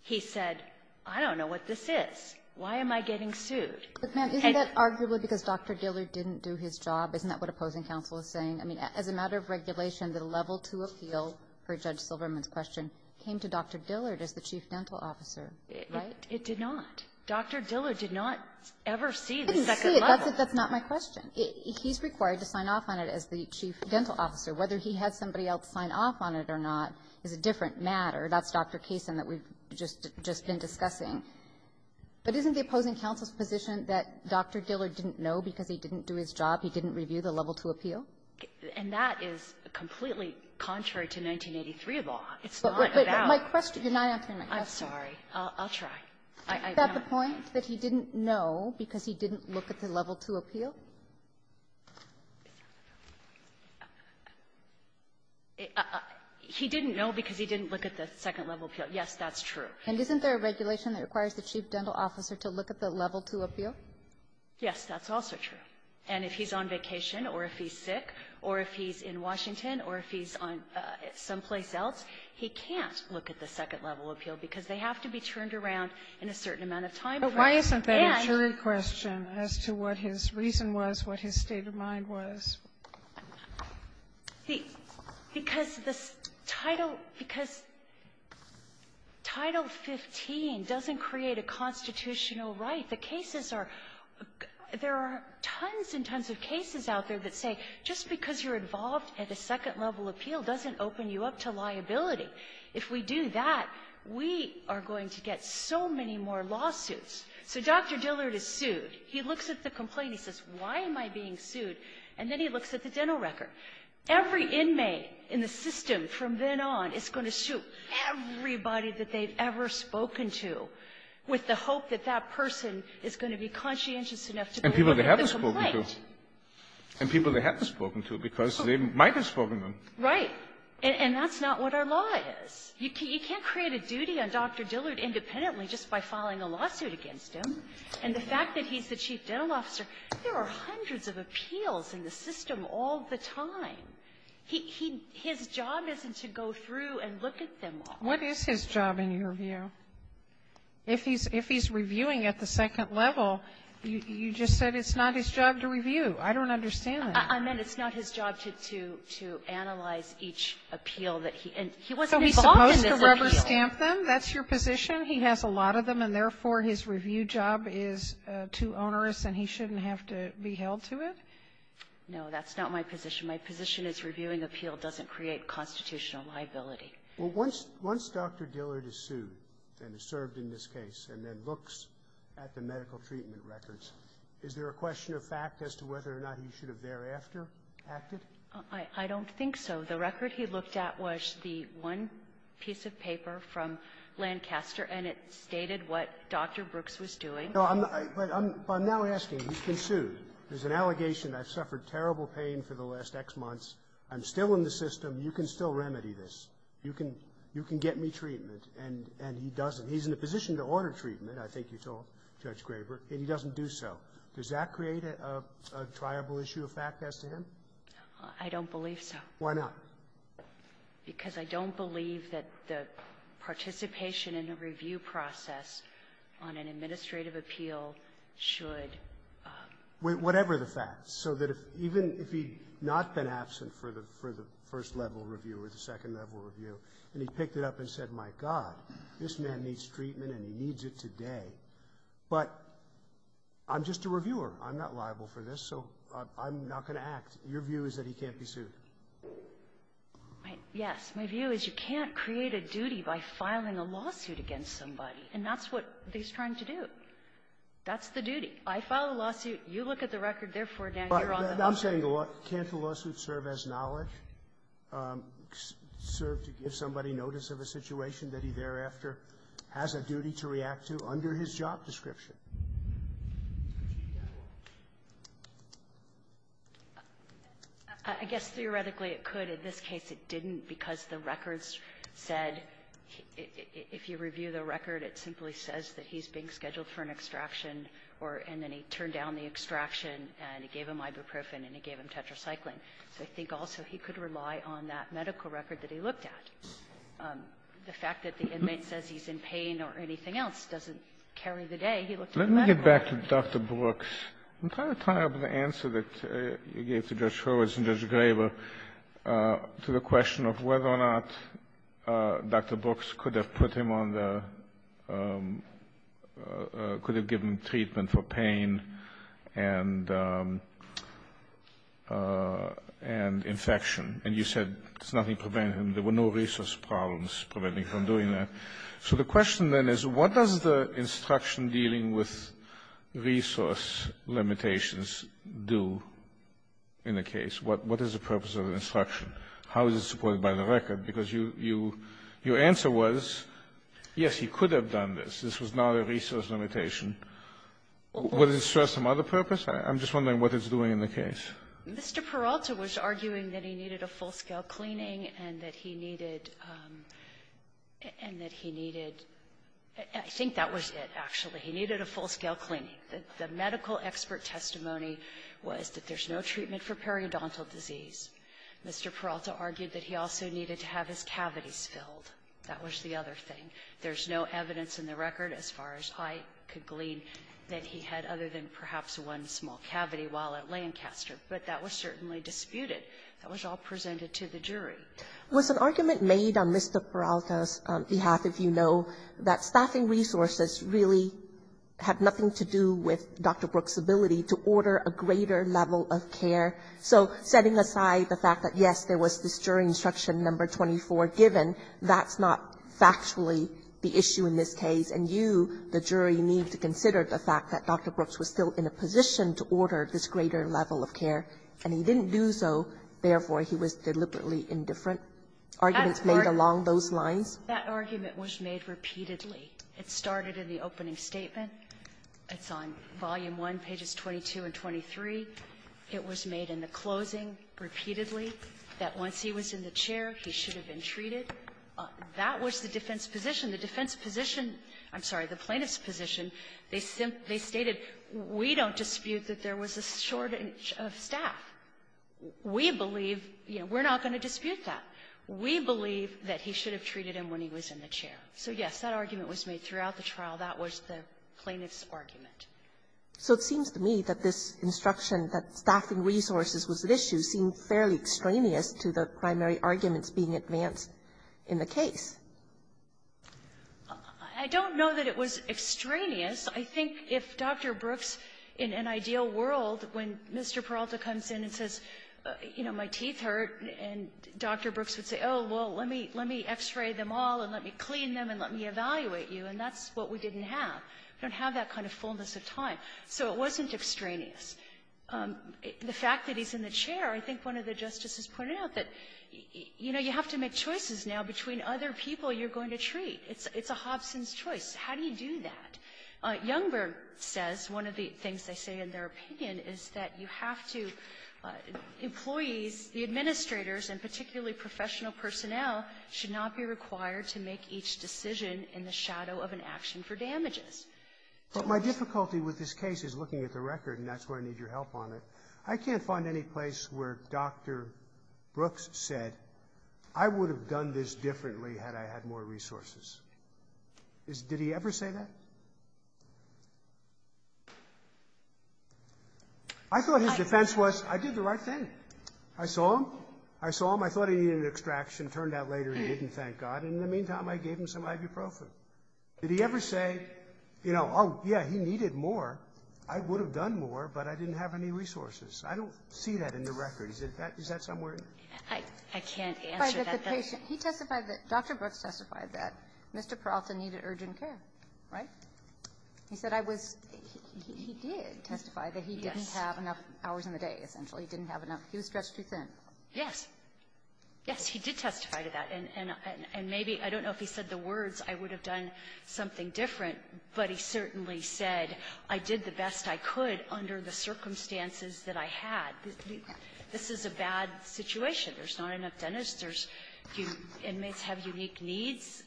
he said, I don't know what this is. Why am I getting sued? But, ma'am, isn't that arguably because Dr. Dillard didn't do his job? Isn't that what opposing counsel is saying? I mean, as a matter of regulation, the level two appeal, per Judge Silverman's suggestion, came to Dr. Dillard as the Chief Dental Officer, right? It did not. Dr. Dillard did not ever see the second level. He didn't see it. That's not my question. He's required to sign off on it as the Chief Dental Officer. Whether he had somebody else sign off on it or not is a different matter. That's Dr. Kaysen that we've just been discussing. But isn't the opposing counsel's position that Dr. Dillard didn't know because he didn't do his job, he didn't review the level two appeal? And that is completely contrary to 1983 law. It's not about the law. But my question, you're not answering my question. I'm sorry. I'll try. Is that the point, that he didn't know because he didn't look at the level two appeal? He didn't know because he didn't look at the second level appeal. Yes, that's true. And isn't there a regulation that requires the Chief Dental Officer to look at the level two appeal? Yes, that's also true. And if he's on vacation or if he's sick or if he's in Washington or if he's someplace else, he can't look at the second level appeal because they have to be turned around in a certain amount of time. And why isn't that a jury question as to what his reason was, what his state of mind was? Because the Title 15 doesn't create a constitutional right. The cases are — there are tons and tons of cases out there that say just because you're involved at a second level appeal doesn't open you up to liability. If we do that, we are going to get so many more lawsuits. So Dr. Dillard is sued. He looks at the complaint. He says, why am I being sued? And then he looks at the dental record. Every inmate in the system from then on is going to sue everybody that they've ever spoken to with the hope that that person is going to be conscientious enough to go to the complaint. And people they haven't spoken to because they might have spoken to them. Right. And that's not what our law is. You can't create a duty on Dr. Dillard independently just by filing a lawsuit against him. And the fact that he's the chief dental officer, there are hundreds of appeals in the system all the time. His job isn't to go through and look at them all. What is his job, in your view? If he's reviewing at the second level, you just said it's not his job to review. I don't understand that. I meant it's not his job to analyze each appeal that he enters. He wasn't involved in this appeal. So he's supposed to rubber stamp them? That's your position? He has a lot of them, and therefore, his review job is too onerous and he shouldn't have to be held to it? No, that's not my position. My position is reviewing appeal doesn't create constitutional liability. Well, once Dr. Dillard is sued and has served in this case and then looks at the medical treatment records, is there a question of fact as to whether or not he should have thereafter acted? I don't think so. The record he looked at was the one piece of paper from Lancaster, and it stated what Dr. Brooks was doing. No, but I'm now asking, he's been sued. There's an allegation I've suffered terrible pain for the last X months. I'm still in the system. You can still remedy this. You can get me treatment, and he doesn't. He's in a position to order treatment, I think you told Judge Graber, and he doesn't do so. Does that create a triable issue of fact as to him? I don't believe so. Why not? Because I don't believe that the participation in the review process on an administrative appeal should be the case. But I'm just a reviewer. I'm not liable for this, so I'm not going to act. Your view is that he can't be sued? Yes. My view is you can't create a duty by filing a lawsuit against somebody, and that's what he's trying to do. That's the duty. I file a lawsuit. You look at the record. Therefore, now you're on the lawsuit. Can't the lawsuit serve as knowledge? Serve to give somebody notice of a situation that he thereafter has a duty to react to under his job description? I guess theoretically it could. In this case, it didn't, because the records said if you review the record, it simply says that he's being scheduled for an extraction or and then he turned down the extraction and it gave him ibuprofen and it gave him tetracycline. So I think also he could rely on that medical record that he looked at. The fact that the inmate says he's in pain or anything else doesn't carry the day he looked at the medical record. Let me get back to Dr. Brooks. I'm trying to tie up the answer that you gave to Judge Hurwitz and Judge Graber to the question of whether or not Dr. Brooks could have put him on the – could have given treatment for pain and infection. And you said there's nothing preventing him. There were no resource problems preventing him from doing that. So the question then is what does the instruction dealing with resource limitations do in the case? What is the purpose of the instruction? How is it supported by the record? Because your answer was, yes, he could have done this. This was not a resource limitation. Would it serve some other purpose? I'm just wondering what it's doing in the case. Brooks. Mr. Peralta was arguing that he needed a full-scale cleaning and that he needed – and that he needed – I think that was it, actually. He needed a full-scale cleaning. The medical expert testimony was that there's no treatment for periodontal disease. Mr. Peralta argued that he also needed to have his cavities filled. That was the other thing. There's no evidence in the record, as far as I could glean, that he had other than perhaps one small cavity while at Lancaster. But that was certainly disputed. That was all presented to the jury. Was an argument made on Mr. Peralta's behalf, if you know, that staffing resources really had nothing to do with Dr. Brooks' ability to order a greater level of care? So setting aside the fact that, yes, there was this jury instruction number 24 given, that's not factually the issue in this case, and you, the jury, need to consider the fact that Dr. Brooks was still in a position to order this greater level of care, and he didn't do so, therefore, he was deliberately indifferent. Arguments made along those lines? That argument was made repeatedly. It started in the opening statement. It's on volume 1, pages 22 and 23. It was made in the closing repeatedly, that once he was in the chair, he should have been treated. That was the defense position. The defense position, I'm sorry, the plaintiff's position, they stated, we don't dispute that there was a shortage of staff. We believe, you know, we're not going to dispute that. We believe that he should have treated him when he was in the chair. So, yes, that argument was made throughout the trial. That was the plaintiff's argument. So it seems to me that this instruction that staffing resources was at issue seemed fairly extraneous to the primary arguments being advanced in the case. I don't know that it was extraneous. I think if Dr. Brooks, in an ideal world, when Mr. Peralta comes in and says, you know, my teeth hurt, and Dr. Brooks would say, oh, well, let me, let me x-ray them all, and let me clean them, and let me evaluate you, and that's what we didn't have. We don't have that kind of fullness of time. So it wasn't extraneous. The fact that he's in the chair, I think one of the justices pointed out that, you know, you have to make choices now between other people you're going to treat. It's a Hobson's choice. How do you do that? Youngberg says, one of the things they say in their opinion is that you have to employees, the administrators, and particularly professional personnel, should not be required to make each decision in the shadow of an action for damages. But my difficulty with this case is looking at the record, and that's where I need your help on it. I can't find any place where Dr. Brooks said, I would have done this differently had I had more resources. Did he ever say that? I thought his defense was, I did the right thing. I saw him. I saw him. I thought he needed an extraction. Turned out later he didn't, thank God. And in the meantime, I gave him some ibuprofen. Did he ever say, you know, oh, yeah, he needed more, I would have done more, but I didn't have any resources? I don't see that in the record. Is that somewhere? Youngberg, I can't answer that. He testified that Dr. Brooks testified that Mr. Peralta needed urgent care, right? He said I was he did testify that he didn't have enough hours in the day, essentially. He didn't have enough. He was stretched too thin. Yes. Yes, he did testify to that. And maybe, I don't know if he said the words, I would have done something different. But he certainly said, I did the best I could under the circumstances that I had. This is a bad situation. There's not enough dentists. There's your inmates have unique needs.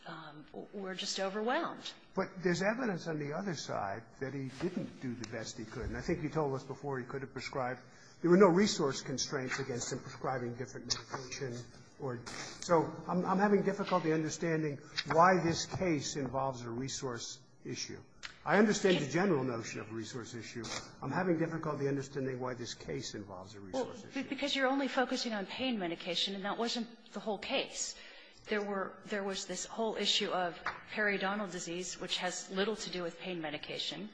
We're just overwhelmed. But there's evidence on the other side that he didn't do the best he could. And I think he told us before he could have prescribed. There were no resource constraints against him prescribing different medication or so I'm having difficulty understanding why this case involves a resource issue. I understand the general notion of a resource issue. I'm having difficulty understanding why this case involves a resource issue. Because you're only focusing on pain medication, and that wasn't the whole case. There were there was this whole issue of periodontal disease, which has little to do with pain medication.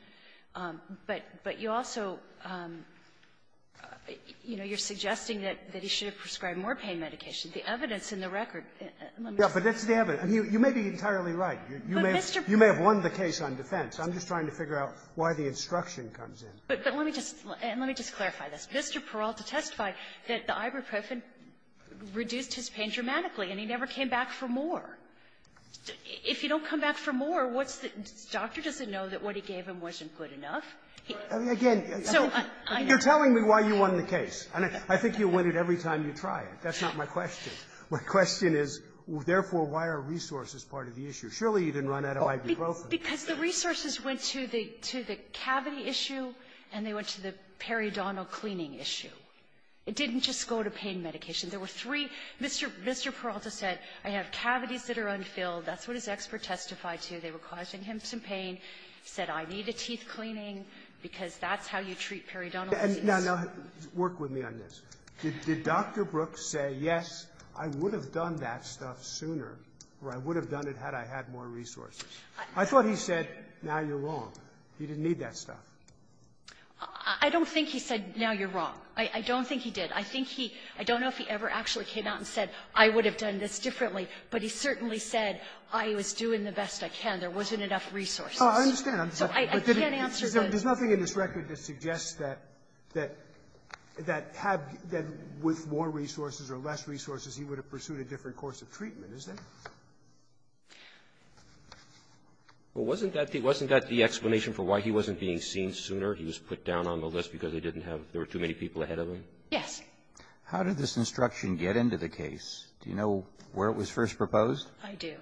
But you also, you know, you're suggesting that he should have prescribed more pain medication. The evidence in the record, let me just say. Yeah, but that's the evidence. You may be entirely right. You may have won the case on defense. I'm just trying to figure out why the instruction comes in. But let me just clarify this. Mr. Peralta testified that the ibuprofen reduced his pain dramatically, and he never came back for more. If you don't come back for more, what's the doctor doesn't know that what he gave him wasn't good enough? Again, you're telling me why you won the case. I think you win it every time you try it. That's not my question. My question is, therefore, why are resources part of the issue? Surely you didn't run out of ibuprofen. Because the resources went to the cavity issue, and they went to the periodontal cleaning issue. It didn't just go to pain medication. There were three. Mr. Peralta said, I have cavities that are unfilled. That's what his expert testified to. They were causing him some pain. He said, I need a teeth cleaning, because that's how you treat periodontal disease. Now, work with me on this. Did Dr. Brooks say, yes, I would have done that stuff sooner, or I would have done it had I had more resources? I thought he said, now you're wrong. He didn't need that stuff. I don't think he said, now you're wrong. I don't think he did. I think he – I don't know if he ever actually came out and said, I would have done this differently. But he certainly said, I was doing the best I can. There wasn't enough resources. Oh, I understand. I'm sorry. I can't answer the question. There's nothing in this record that suggests that – that had – that with more resources or less resources, he would have pursued a different course of treatment, is there? Well, wasn't that the – wasn't that the explanation for why he wasn't being seen sooner? He was put down on the list because they didn't have – there were too many people ahead of him? Yes. How did this instruction get into the case? Do you know where it was first proposed? I do.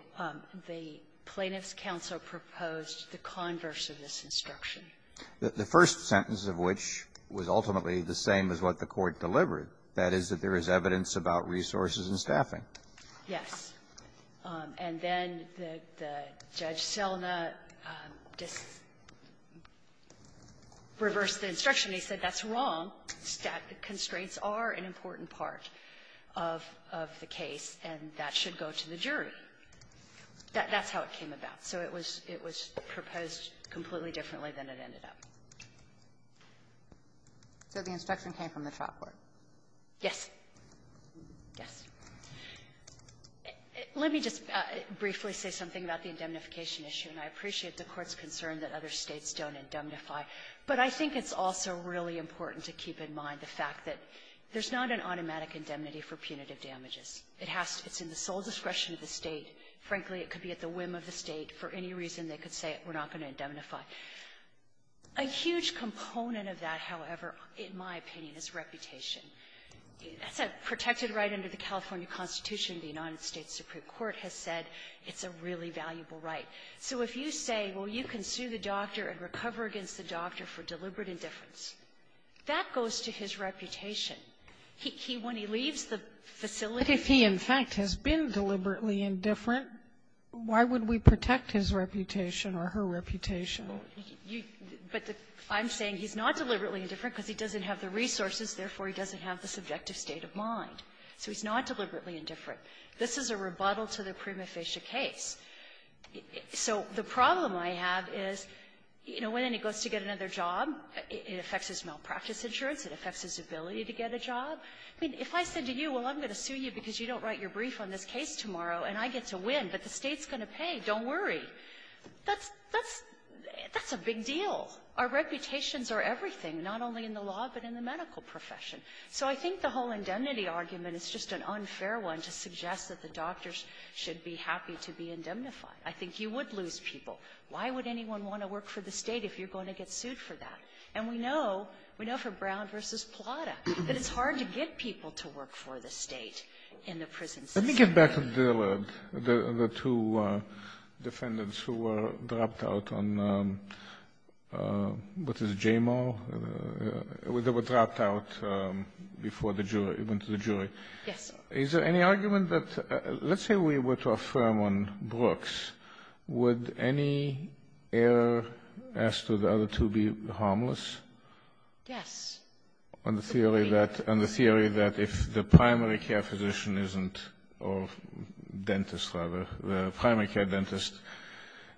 The Plaintiffs' Counsel proposed the converse of this instruction. The first sentence of which was ultimately the same as what the Court delivered, that is, that there is evidence about resources and staffing. Yes. And then the Judge Selna just reversed the instruction. He said, that's wrong. Staffing constraints are an important part of the case, and that should go to the jury. That's how it came about. So it was – it was proposed completely differently than it ended up. So the instruction came from the trial court? Yes. Yes. Let me just briefly say something about the indemnification issue. And I appreciate the Court's concern that other States don't indemnify. But I think it's also really important to keep in mind the fact that there's not an automatic indemnity for punitive damages. It has to – it's in the sole discretion of the State. Frankly, it could be at the whim of the State. For any reason, they could say, we're not going to indemnify. A huge component of that, however, in my opinion, is reputation. That's a protected right under the California Constitution. The United States Supreme Court has said it's a really valuable right. So if you say, well, you can sue the doctor and recover against the doctor for deliberate indifference, that goes to his reputation. He – when he leaves the facility – indifferent, why would we protect his reputation or her reputation? You – but the – I'm saying he's not deliberately indifferent because he doesn't have the resources. Therefore, he doesn't have the subjective state of mind. So he's not deliberately indifferent. This is a rebuttal to the Prima Facie case. So the problem I have is, you know, when he goes to get another job, it affects his malpractice insurance. It affects his ability to get a job. I mean, if I said to you, well, I'm going to sue you because you don't write your case, and you're going to win, but the State's going to pay, don't worry, that's – that's – that's a big deal. Our reputations are everything, not only in the law, but in the medical profession. So I think the whole indemnity argument is just an unfair one to suggest that the doctors should be happy to be indemnified. I think you would lose people. Why would anyone want to work for the State if you're going to get sued for that? And we know – we know from Brown v. Plata that it's hard to get people to work for the State in the prison system. Let me get back to Dillard, the two defendants who were dropped out on what is J-Mal? They were dropped out before the jury – went to the jury. Yes, sir. Is there any argument that – let's say we were to affirm on Brooks, would any error as to the other two be harmless? Yes. On the theory that – on the theory that if the primary care physician isn't – or dentist, rather, the primary care dentist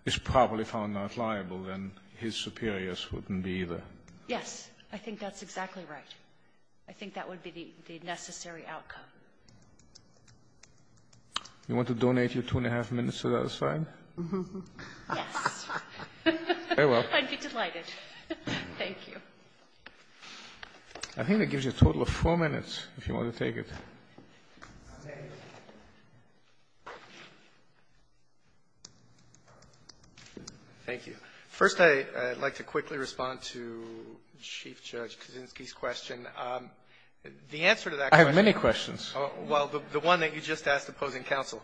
is properly found not liable, then his superiors wouldn't be either. Yes. I think that's exactly right. I think that would be the necessary outcome. You want to donate your two and a half minutes to that aside? Yes. Very well. I'd be delighted. Thank you. I think that gives you a total of four minutes, if you want to take it. Thank you. First, I'd like to quickly respond to Chief Judge Kaczynski's question. The answer to that question – I have many questions. Well, the one that you just asked opposing counsel.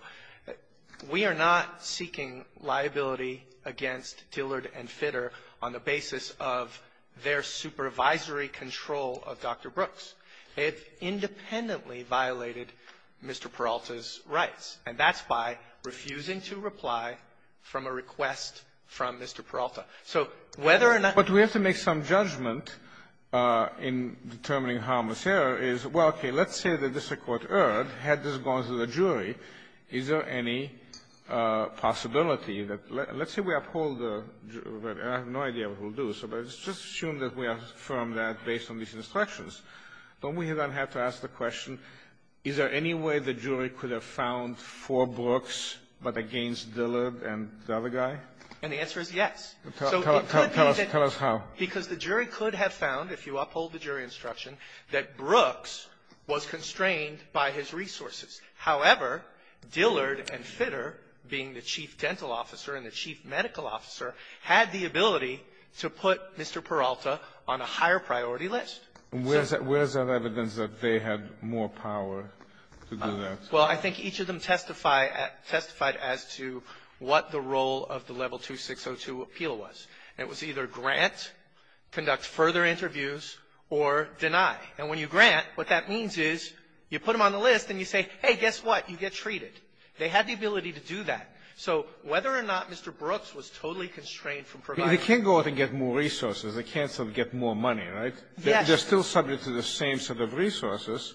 We are not seeking liability against Dillard and Fitter on the basis of their supervisory control of Dr. Brooks. It independently violated Mr. Peralta's rights, and that's by refusing to reply from a request from Mr. Peralta. So whether or not – But we have to make some judgment in determining harmless error is, well, okay. Let's say that this Court erred. Had this gone to the jury, is there any possibility that – let's say we uphold the – I have no idea what we'll do. So let's just assume that we affirm that based on these instructions. Don't we then have to ask the question, is there any way the jury could have found for Brooks but against Dillard and the other guy? And the answer is yes. So it could be that – Tell us how. Because the jury could have found, if you uphold the jury instruction, that Brooks was constrained by his resources. However, Dillard and Fitter, being the chief dental officer and the chief medical officer, had the ability to put Mr. Peralta on a higher priority list. And where is that evidence that they had more power to do that? Well, I think each of them testify – testified as to what the role of the Level 2602 appeal was. And it was either grant, conduct further interviews, or deny. And when you grant, what that means is you put them on the list and you say, hey, guess what, you get treated. They had the ability to do that. So whether or not Mr. Brooks was totally constrained from providing – They can't go out and get more resources. They can't get more money, right? Yes. They're still subject to the same set of resources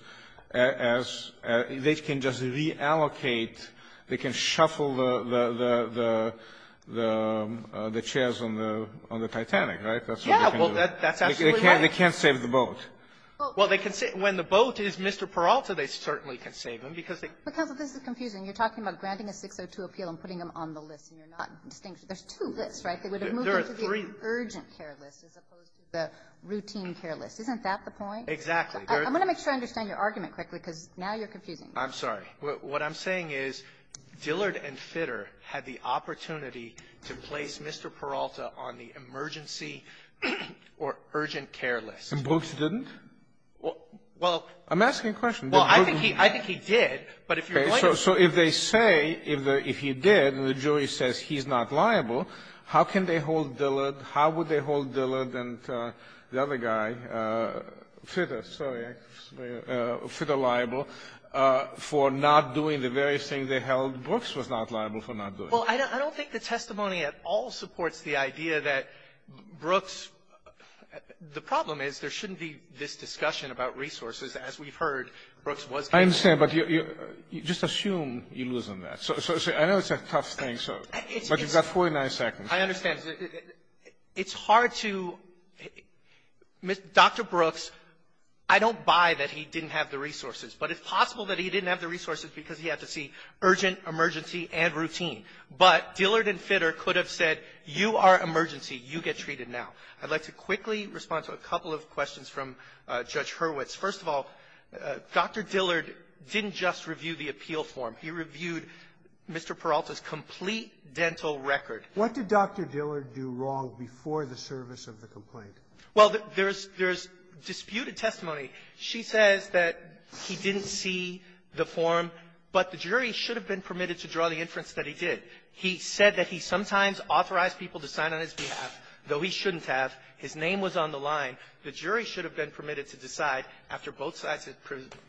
as – they can just reallocate – they can shuffle the – the chairs on the Titanic, right? That's what they can do. Yeah. Well, that's absolutely right. They can't save the boat. Well, they can save – when the boat is Mr. Peralta, they certainly can save him, because they – Counsel, this is confusing. You're talking about granting a 602 appeal and putting them on the list, and you're not distinguishing. There's two lists, right? They would have moved into the urgent care list as opposed to the routine care list. Isn't that the point? Exactly. I'm going to make sure I understand your argument quickly, because now you're confusing me. I'm sorry. What I'm saying is Dillard and Fitter had the opportunity to place Mr. Peralta on the emergency or urgent care list. And Brooks didn't? Well – I'm asking a question. Well, I think he – I think he did, but if you're going to – Okay. So if they say – if you did, and the jury says he's not liable, how can they hold Dillard? How would they hold Dillard and the other guy – Fitter, sorry, Fitter liable for not doing the very thing they held Brooks was not liable for not doing? Well, I don't think the testimony at all supports the idea that Brooks – the problem is there shouldn't be this discussion about resources. As we've heard, Brooks was – I understand. But you – just assume you lose on that. So I know it's a tough thing, so – but you've got 49 seconds. I understand. It's hard to – Dr. Brooks, I don't buy that he didn't have the resources. But it's possible that he didn't have the resources because he had to see urgent, emergency, and routine. But Dillard and Fitter could have said, you are emergency. You get treated now. I'd like to quickly respond to a couple of questions from Judge Hurwitz. First of all, Dr. Dillard didn't just review the appeal form. He reviewed Mr. Peralta's complete dental record. What did Dr. Dillard do wrong before the service of the complaint? Well, there's – there's disputed testimony. She says that he didn't see the form, but the jury should have been permitted to draw the inference that he did. He said that he sometimes authorized people to sign on his behalf, though he shouldn't have. His name was on the line. The jury should have been permitted to decide, after both sides had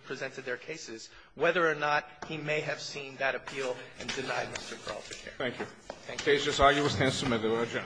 presented their cases, whether or not he may have seen that appeal and denied Mr. Peralta care. Thank you. Thank you. The case is arguably stand-submitted. We'll adjourn.